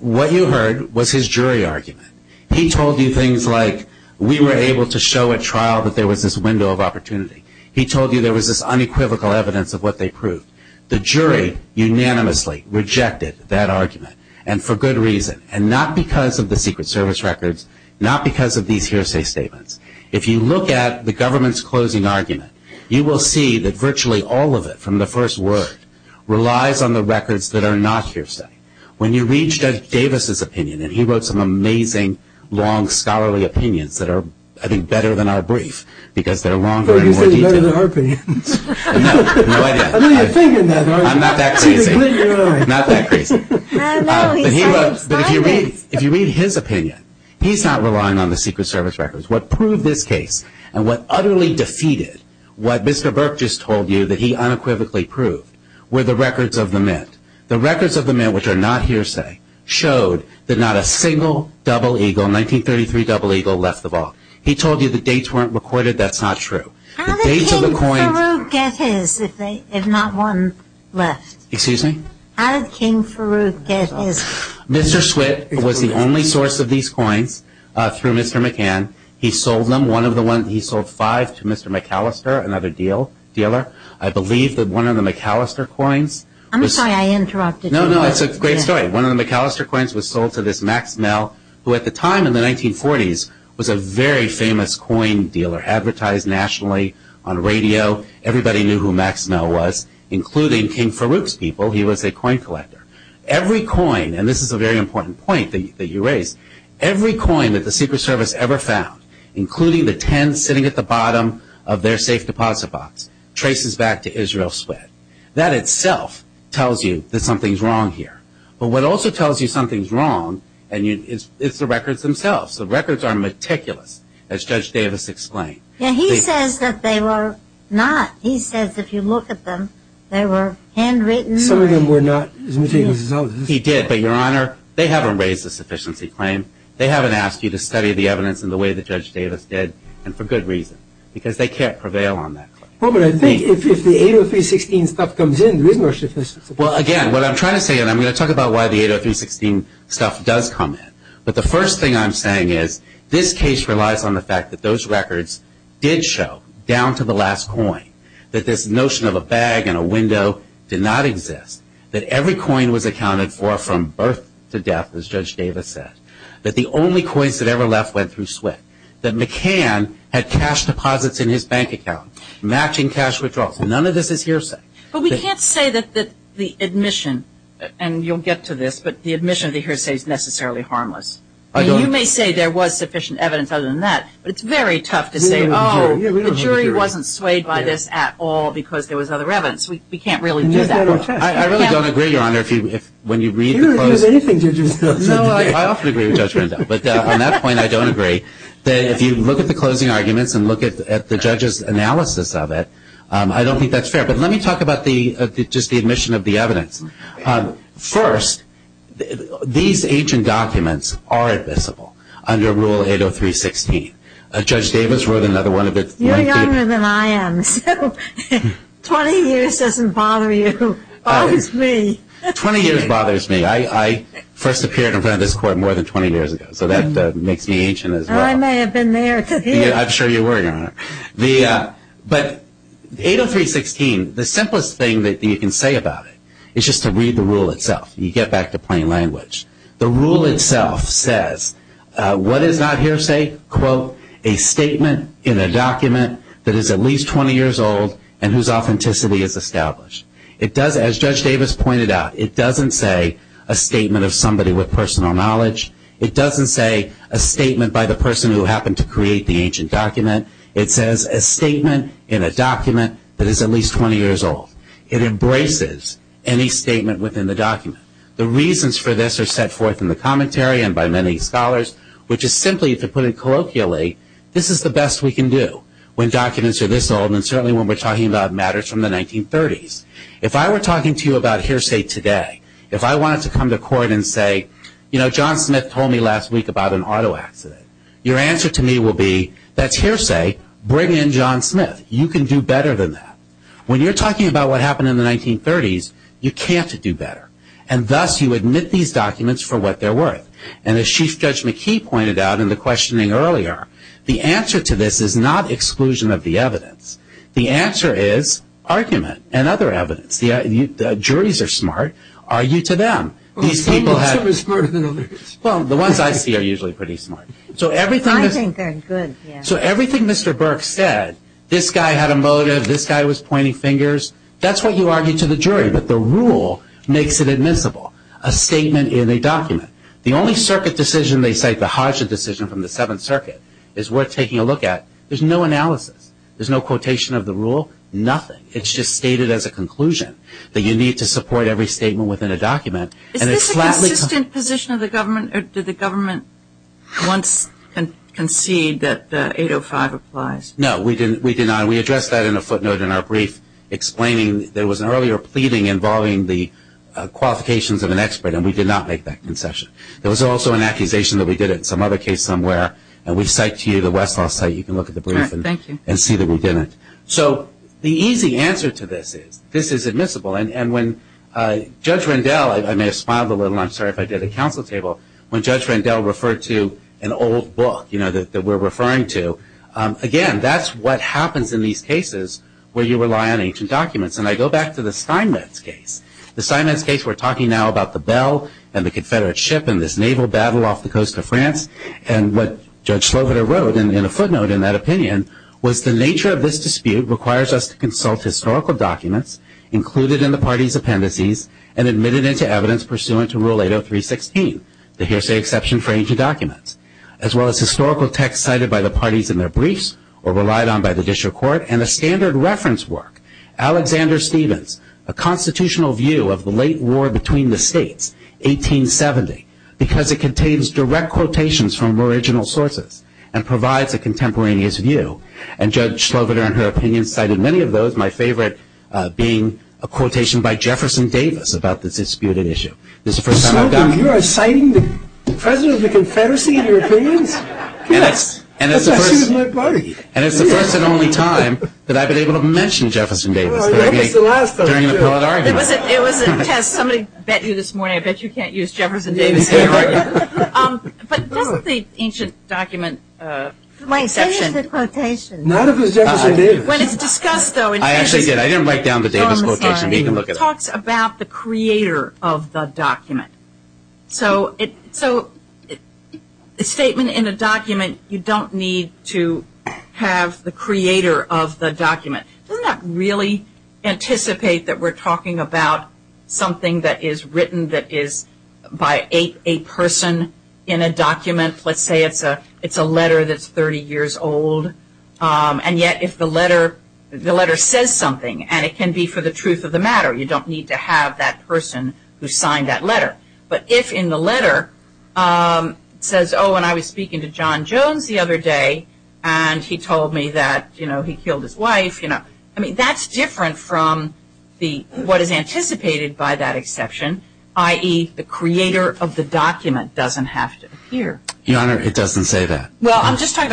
what you heard was his jury argument. He told you things like we were able to show a trial that there was a window of opportunity. He told you there was this unequivocal evidence of what they proved. The jury unanimously rejected that argument and for good reason. Not because of the secret service records. If you look at the government's closing argument, you will see that virtually all of it relies on the records that are not hearsay. When you read his opinion, he is not relying on the secret service records. What proved this case and what utterly defeated what Mr. Burke just told you were the records of the men. The records of the men which are not hearsay showed that not a single double eagle left the ball. He told them to get his if not one left. How did King Farouk get his? Mr. Swit was the only source of these coins. He sold them. He sold five to another dealer. I believe one of the McAllister coins was sold to this man who at the time in the 1940s was a very famous coin dealer advertised nationally on radio. Everybody knew who he was. Every coin that the secret service ever found including the 10 sitting at the bottom of their safe deposit box traces back to Israel. That itself tells you something is wrong here. What also tells you something is wrong is the records themselves. The records are meticulous as Judge Davis explained. He says they were not. He says if you look at them they were handwritten. They haven't raised a sufficiency claim. They haven't asked you to study the evidence the way Judge Davis did. They can't prevail on that. I'm going to talk about why the stuff does come in. The first thing I'm saying is this case relies on the fact that those records did show down to the last coin that this notion of a bag and a window did not exist. Every coin was accounted for from birth to death as Judge Davis said. The only coins that left went through SWIFT. None of this is hearsay. We can't say the admission is necessarily harmless. You may say there was sufficient evidence but it's very tough to say the jury wasn't swayed by this at all. We can't really do that. I don't agree. If you look at the closing arguments and look at the judge's analysis of it, I don't think that's fair. Let me talk about the admission of the evidence. First, these ancient documents are invisible under rule 80316. Judge Davis wrote another one. You're younger than I am. 20 years doesn't bother you. 20 years bothers me. I first appeared in front of this court more than 20 years ago. I may have been there. I'm sure you were. The simplest thing you can say about it is to read the text. It doesn't say a statement in a document that is at least 20 years old. It doesn't say a statement of somebody with personal knowledge. It doesn't say a statement by the person who created the document. It embraces any statement within the document. The reasons for this are set forth in the commentary. This is the best we can do when documents are this old. If I wanted to come to court and say John Smith told me about an auto accident, your answer to me would be bring in John Smith. You can do better than that. When you talk about what happened in the 1930s, you can't do better. The answer to this is not exclusion of the evidence. The answer is argument. The jurors are smart. The ones I see are usually pretty smart. Everything Mr. Burke said, this guy had a motive, this guy was pointing fingers, that's what you argue to the jury. The rule makes it admissible. The only circuit decision is worth taking a look at. There's no quotation of the rule, nothing. It's just stated as a conclusion. You need to support every statement within a document. Did the government once concede that 805 applies? No, we addressed that in a footnote in our There's also an accusation that we did it somewhere. The easy answer to this is this is admissible. When Judge Randell referred to an old book, again, that's what happens in these cases where you rely on documents. I go back to the case of the ship and the naval battle off the coast of France. The nature of this requires us to consult historical documents and admitted into evidence pursuant to rule 803 16. As well as historical documents from 1870. Because it contains direct quotations from original sources and provides a contemporaneous view. My favorite being a quotation by about this disputed issue. This is the first time I've done it. It's the first and only time I've been able to mention it. I bet you can't use Jefferson Davis. But that's the ancient document section. It talks about the creator of the document. So, a statement in a document, you don't need to have the creator of the document. We're not really anticipating that we're have a statement that is by a person in a document. Let's say it's a letter that's 30 years old. And yet if the letter says something and it can be for the truth of the matter, you don't need to have that person who signed that letter. But if in the letter it says, oh, the doesn't have to appear. I was speaking to John Jones the other day and he told me he killed his wife. That's different from what is anticipated by that exception, i.e., the creator of the document doesn't have to appear. It doesn't have to appear. I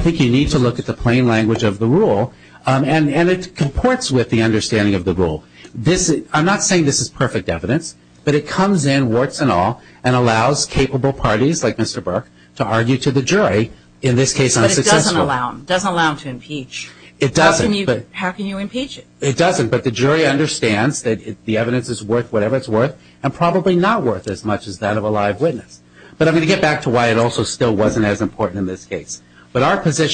think you need to look at the plain language of the rule. And it comports with the understanding of the rule. I'm not saying this is perfect evidence, but it comes in and allows capable parties to argue with the jury. It doesn't allow them to impeach. It doesn't, but the jury understands that the evidence is worth whatever it is. I'm going to get back to why it wasn't as important in this case. This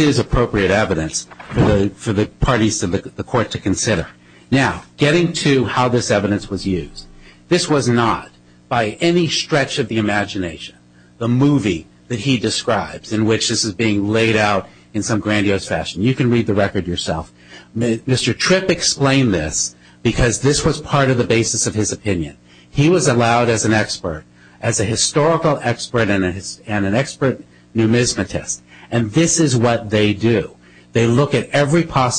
is not by any stretch of the imagination, the movie he described. You can read the record yourself. Mr. Tripp explained this because this was part of the basis of his opinion. This is what they do. They look at every coin.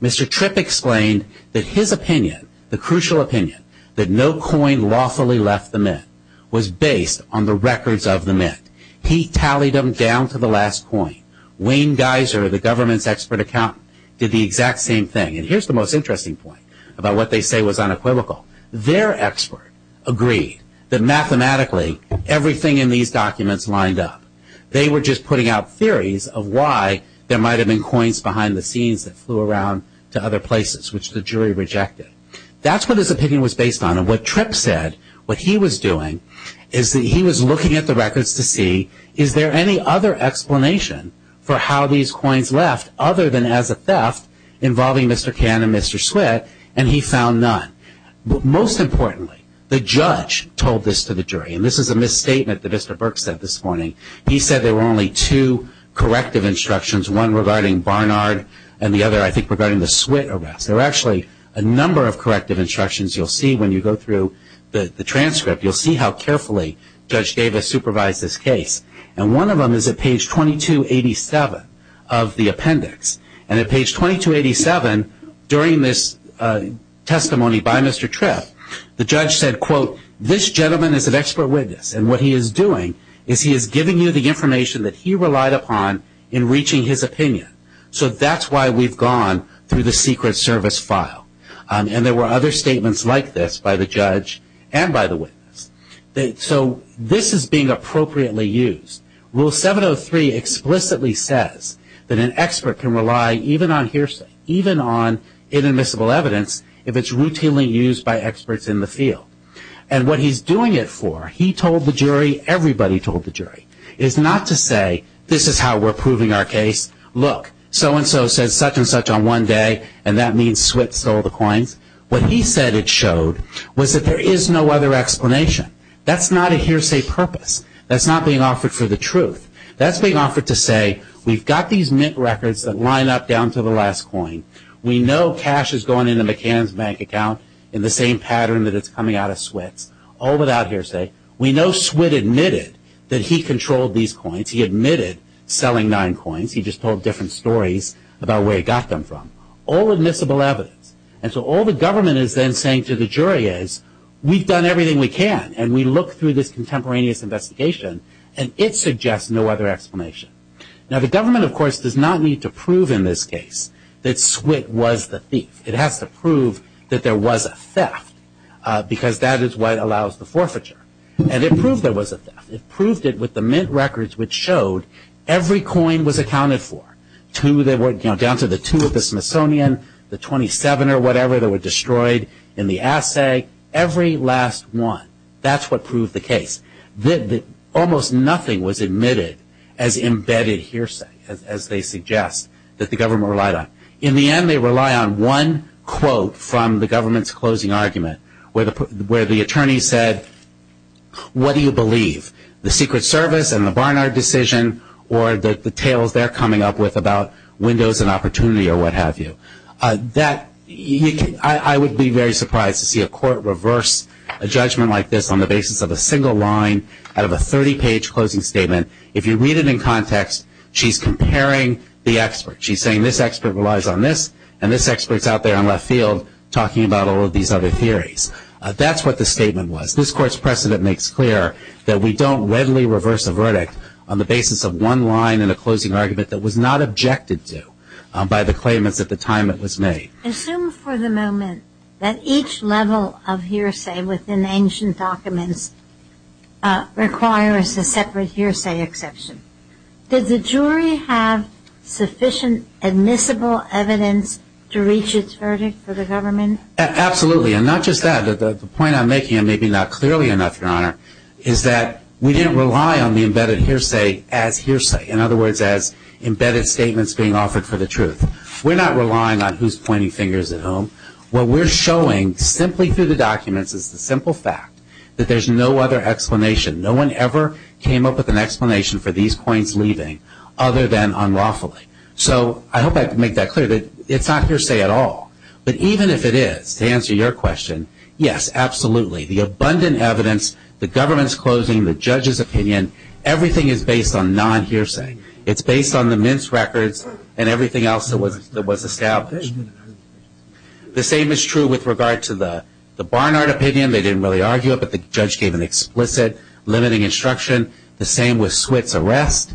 Mr. Tripp explained his opinion was based on the records of the myth. He tallied them down to the last point. Wayne Geiser did the same thing. Their expert agreed that mathematically everything in these documents lined up. They were just putting out theories. That is what his opinion was based on. What he was doing was looking at the records to see if there was any other explanation for how these coins left. Most importantly, the judge told this to the jury. This is a misstatement. He said there were only two corrective instructions. There are a number of corrective instructions. You will see how carefully judge Davis supervised this case. On page 2287 during this testimony, the judge said this gentleman is an expert witness. He is giving you the information he relied on. That is why we went through the secret service file. There were other statements like this. This is being appropriately used. Rule 703 explicitly says an expert can rely even on evidence if it is routinely used by experts in the field. What he is doing it for is not to say this is how we are proving our case. What he said it showed was there is no other explanation. That is not a hearsay purpose. That is not being offered for the truth. That is being offered to say we have these records. We know cash has gone in the same pattern. We know he admitted that he controlled these coins. He admitted selling nine coins. All the government is saying to the jury is we have done everything we can and it suggests no other explanation. The government does not need to prove there was a theft. That is what allows the forfeiture. It proved it with the mint records which showed every last one. That is what proved the case. Almost nothing was admitted as embedded hearsay. In the end they rely on one quote from the government closing argument where the attorney said what do you believe? The secret service or the tales they are coming up with. I would be very surprised to see a court reverse a judgment like this on the basis of a single line. If you read it in context she is comparing the expert. She is saying this expert relies on this and this expert is out there on the field talking about all of these theories. That is what the statement was. This court's precedent makes clear we don't reverse a verdict on the basis of one line that was not objected to. Assume for the moment that each level of hearsay within ancient documents requires a separate hearsay exception. Did the jury have sufficient admissible evidence to reach a verdict? Absolutely. The point I'm making is that we didn't rely on the embedded hearsay. We are not relying on who is pointing fingers at whom. We are showing the simple fact that there is no other explanation. No one ever came up with that. I hope I made that clear. It is not hearsay at all. Even if it is, the abundant evidence, the government's closing, the judge's opinion, everything is based on non-hearsay. The same is true with regard to the Barnard opinion. The judge gave an explicit statement limiting instruction. The same with arrest.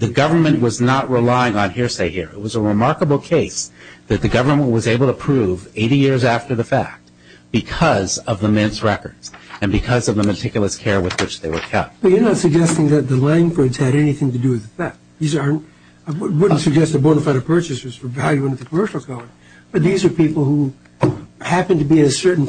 The government was not relying on hearsay. It was a remarkable case that the government was able to prove 80 years after the fact because of the records. These are people who happen to be a certain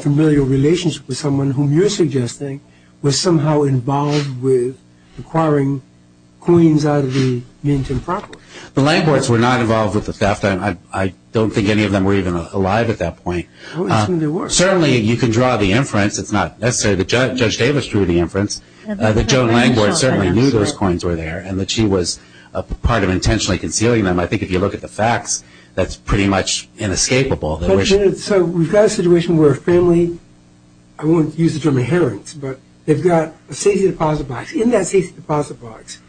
age. I don't think any of them were even alive at that point. Certainly you can draw the inference. The judge drew the inference. She was part of intentionally concealing them. If you look at the facts, that is inescapable. We have a where a family, I won't use the term inherent, but in that deposit box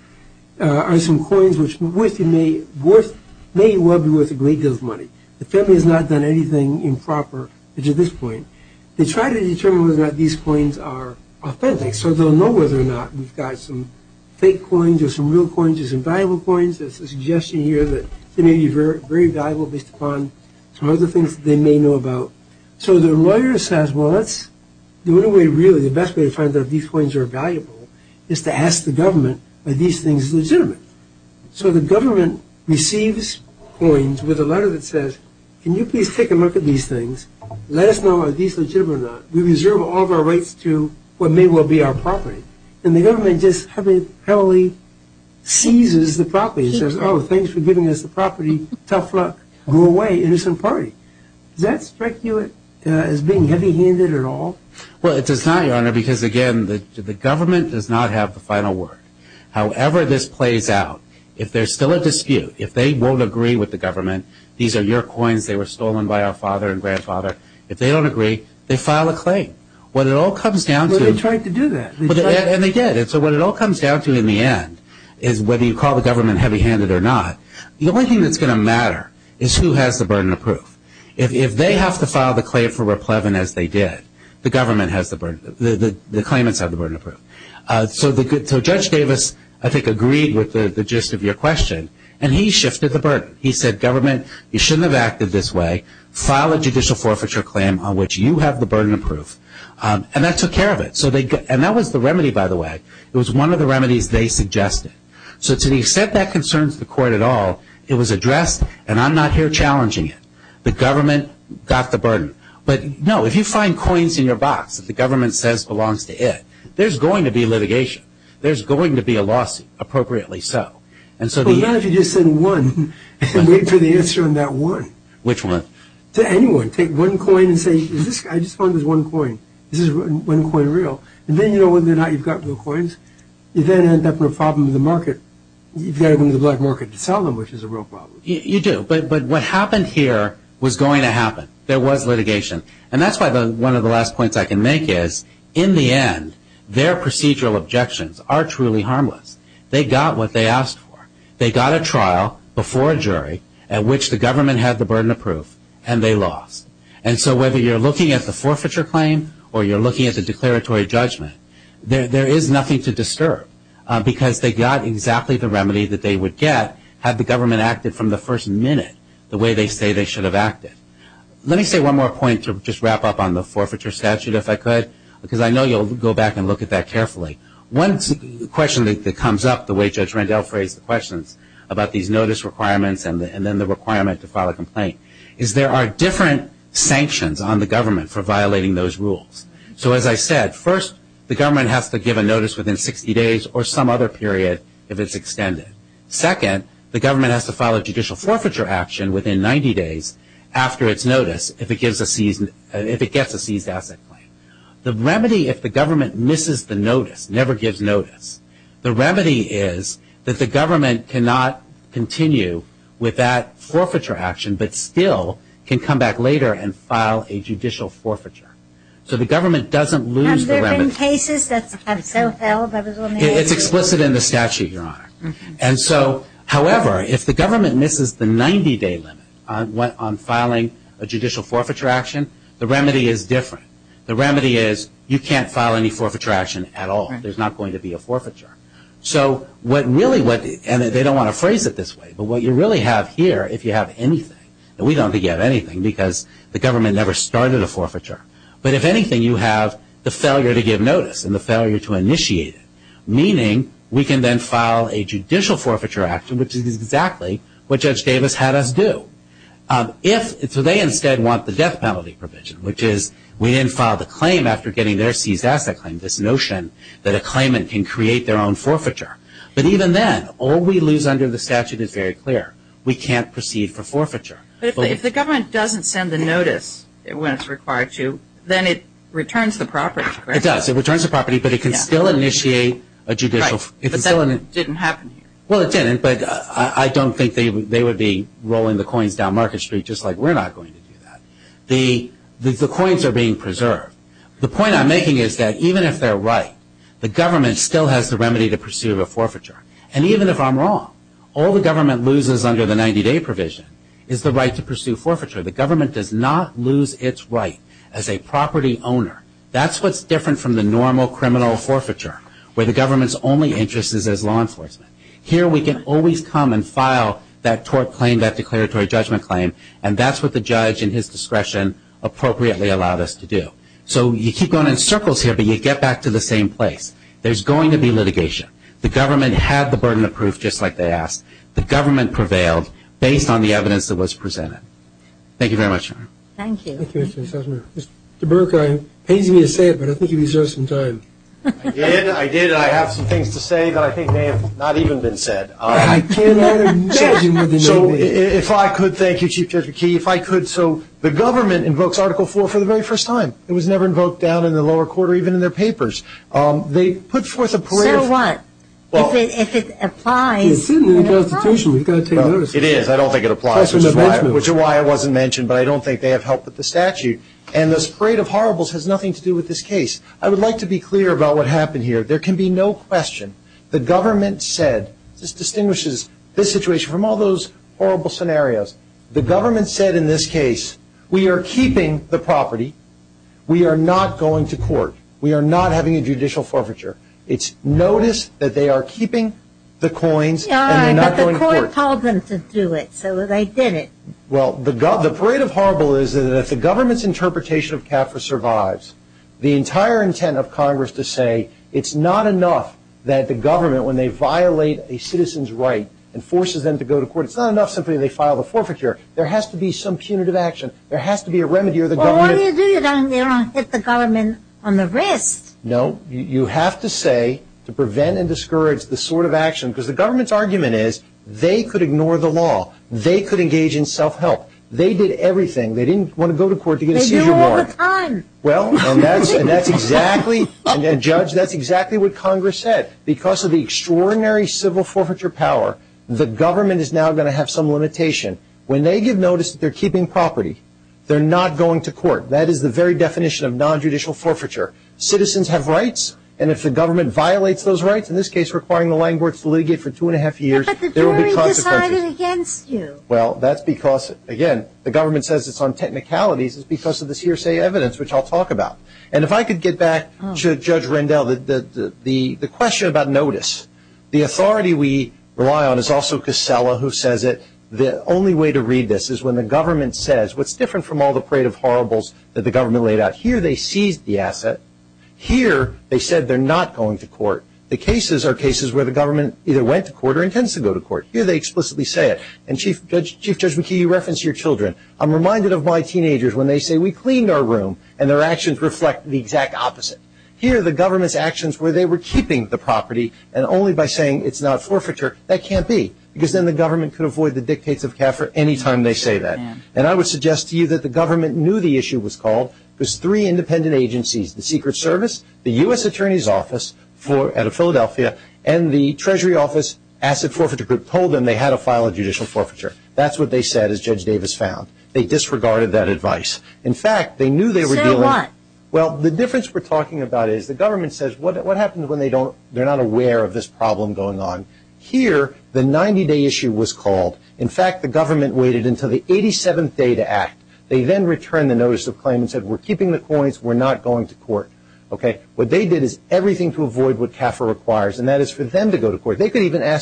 are some coins which may well be worth a great deal of money. The family has not done anything improper. They try to determine whether these coins are authentic. They will know whether or not we have fake coins, real coins, valuable coins. The lawyer says the best find out these coins are valuable is to ask the government are these things legitimate. The government receives coins with a letter that says can you please take a look at these things and let us know if they are legitimate. The government cheeses the property and says thank you for giving us the property. Does that strike you as being heavy handed at all? The government does not have the final word. However, this plays out, if there is still a dispute, if they don't agree with the government, they file a claim. What it all comes down to in the end is whether you call the government heavy handed or not. The only thing that will matter is who has the burden of proof. If they have to file the claim, the government has the burden of proof. Judge Davis agreed with your question and he shifted the burden. He said you should not have acted this way. That was the remedy by the way. It was one of the remedies they suggested. To the extent that the government got the burden. If you find coins in your box, there is going to be a litigation. There is going to be a lawsuit appropriately set. Take one coin and say I just found this one coin. Then you know whether or not you have real coins. Is there a problem with the market? You do. What happened here was going to happen. There was litigation. One of the last points I can make is in the end their objections are harmless. They got what they asked for. They got a trial before a jury and they lost. Whether you are looking at the forfeiture claim or declaratory judgment, there is nothing to disturb. They got the remedy they would get. Let me say one more point to wrap up on the statute. I know you will look at that carefully. There are different sanctions on the government for violating those rules. First, the government has to give a notice within 60 days. Second, the government has to file a judicial action within 90 days. The remedy is if the government misses the notice, the remedy is that the government cannot continue with that judicial forfeiture. The government doesn't lose the remedy. However, if the government misses the 90-day limit, the remedy is different. The remedy is you cannot file any action at all. There is not going to be a forfeiture. They don't want that. If anything, you have the failure to give notice. Meaning, we can file a judicial action, which is exactly what Judge Davis had us do. They want the death penalty provision. Even then, all we lose under the statute is very much the remedy. If the government doesn't send the notice, then it returns the property. It does, but it can still initiate a judicial action. I don't think they would be rolling the coins down market street. The point I'm making is even if they're right, the government still has the remedy. Even if I'm wrong, all the government loses is the right to pursue forfeiture. The government does not lose its right as a property owner. That's what's different from the normal criminal forfeiture. Here we can always come and file that tort claim and that's what the judge and his discretion allowed us to do. You get back to the same place. There's going to be litigation. The government prevailed based on the evidence presented. That's the government did. Thank you very much. Thank you. I have some things to say. I think they have not even been said. If I could, the government invokes article 4 for the very first time. It was never invoked down in the lower quarter. I don't think it applies. I don't think it applies. The parade of horribles has nothing to do with this case. I would like to be clear about what happened here. There can be no question. The government said in this case, we are keeping the property. We are not going to court. We are not having a judicial forfeiture. It is noticed that they are keeping the coins. The parade of horribles is that if the government survives, the entire intent of Congress is to say, it is not enough that the government when they violate a citizen's right, there has to be some punitive action. You have to say to prevent and discourage this sort of action. The government's argument is they could ignore the law. They did everything. They didn't want to go to court. That is exactly what Congress said. Because of the extraordinary civil forfeiture power, the government will have some limitation. They are not going to court. Citizens have rights. If the government violates those rights, they will be punished. The government says it is on technicalities because of the evidence. If I could get back to Judge Rendell, the question about notice. The only way to read this is when the government says what is different from the court. I am reminded of my teenagers when they say we cleaned our room and their actions reflect the exact opposite. Here the government's actions where they were keeping the property and only by saying it is not forfeiture, that can't be. The government knew the issue was called. There were three independent agencies. The U.S. attorney's office and the treasury office told them they had a judicial forfeiture. They disregarded that advice. The government says what happens when they are not aware of this problem going on. The government waited until the 87th day to act. They returned the notice and said we are not going to court. What they did was everything to avoid. They could ask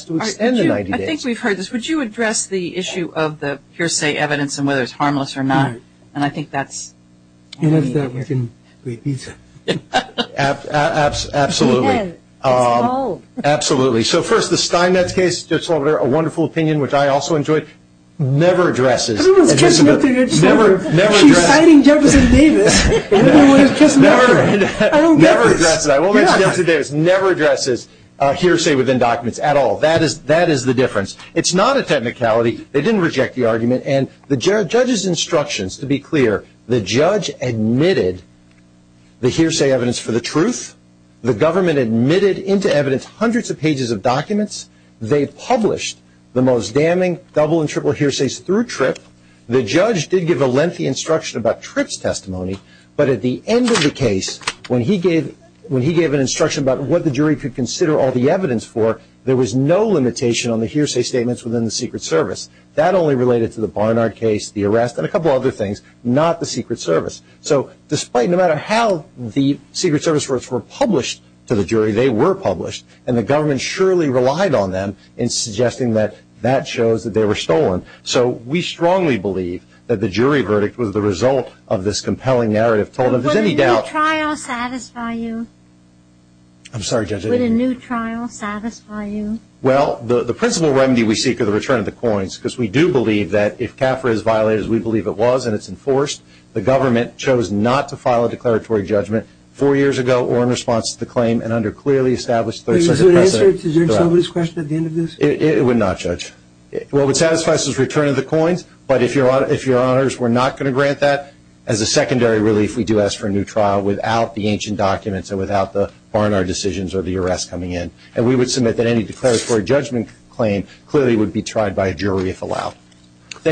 to extend the 90 days. Would you address the issue of the evidence and whether it is harmless or not? Absolutely. The Skynet case never addresses hearsay within documents. That is the difference. It is not a technicality. They did not reject the argument. The judge's instructions to be clear, the judge admitted the hearsay evidence for the truth. The government admitted hundreds of pages of evidence. The judge did give a lengthy instruction but at the end of the case when he gave an instruction about what the jury could consider the evidence for there was no limitation. That only related to the Barnard case. Despite how the secret service were published to the jury, they were published and the government relied on them. We strongly believe that the jury verdict was the result of this compelling narrative. Would a new trial satisfy you? The principal remedy we seek is the return of the coins. The government chose not to file a declaratory judgment four years ago or in response to the claim. It would not judge. If your honors were not going to grant that, we do ask for a new trial without the ancient documents. We would submit that any declaratory judgment would be tried by a jury if allowed.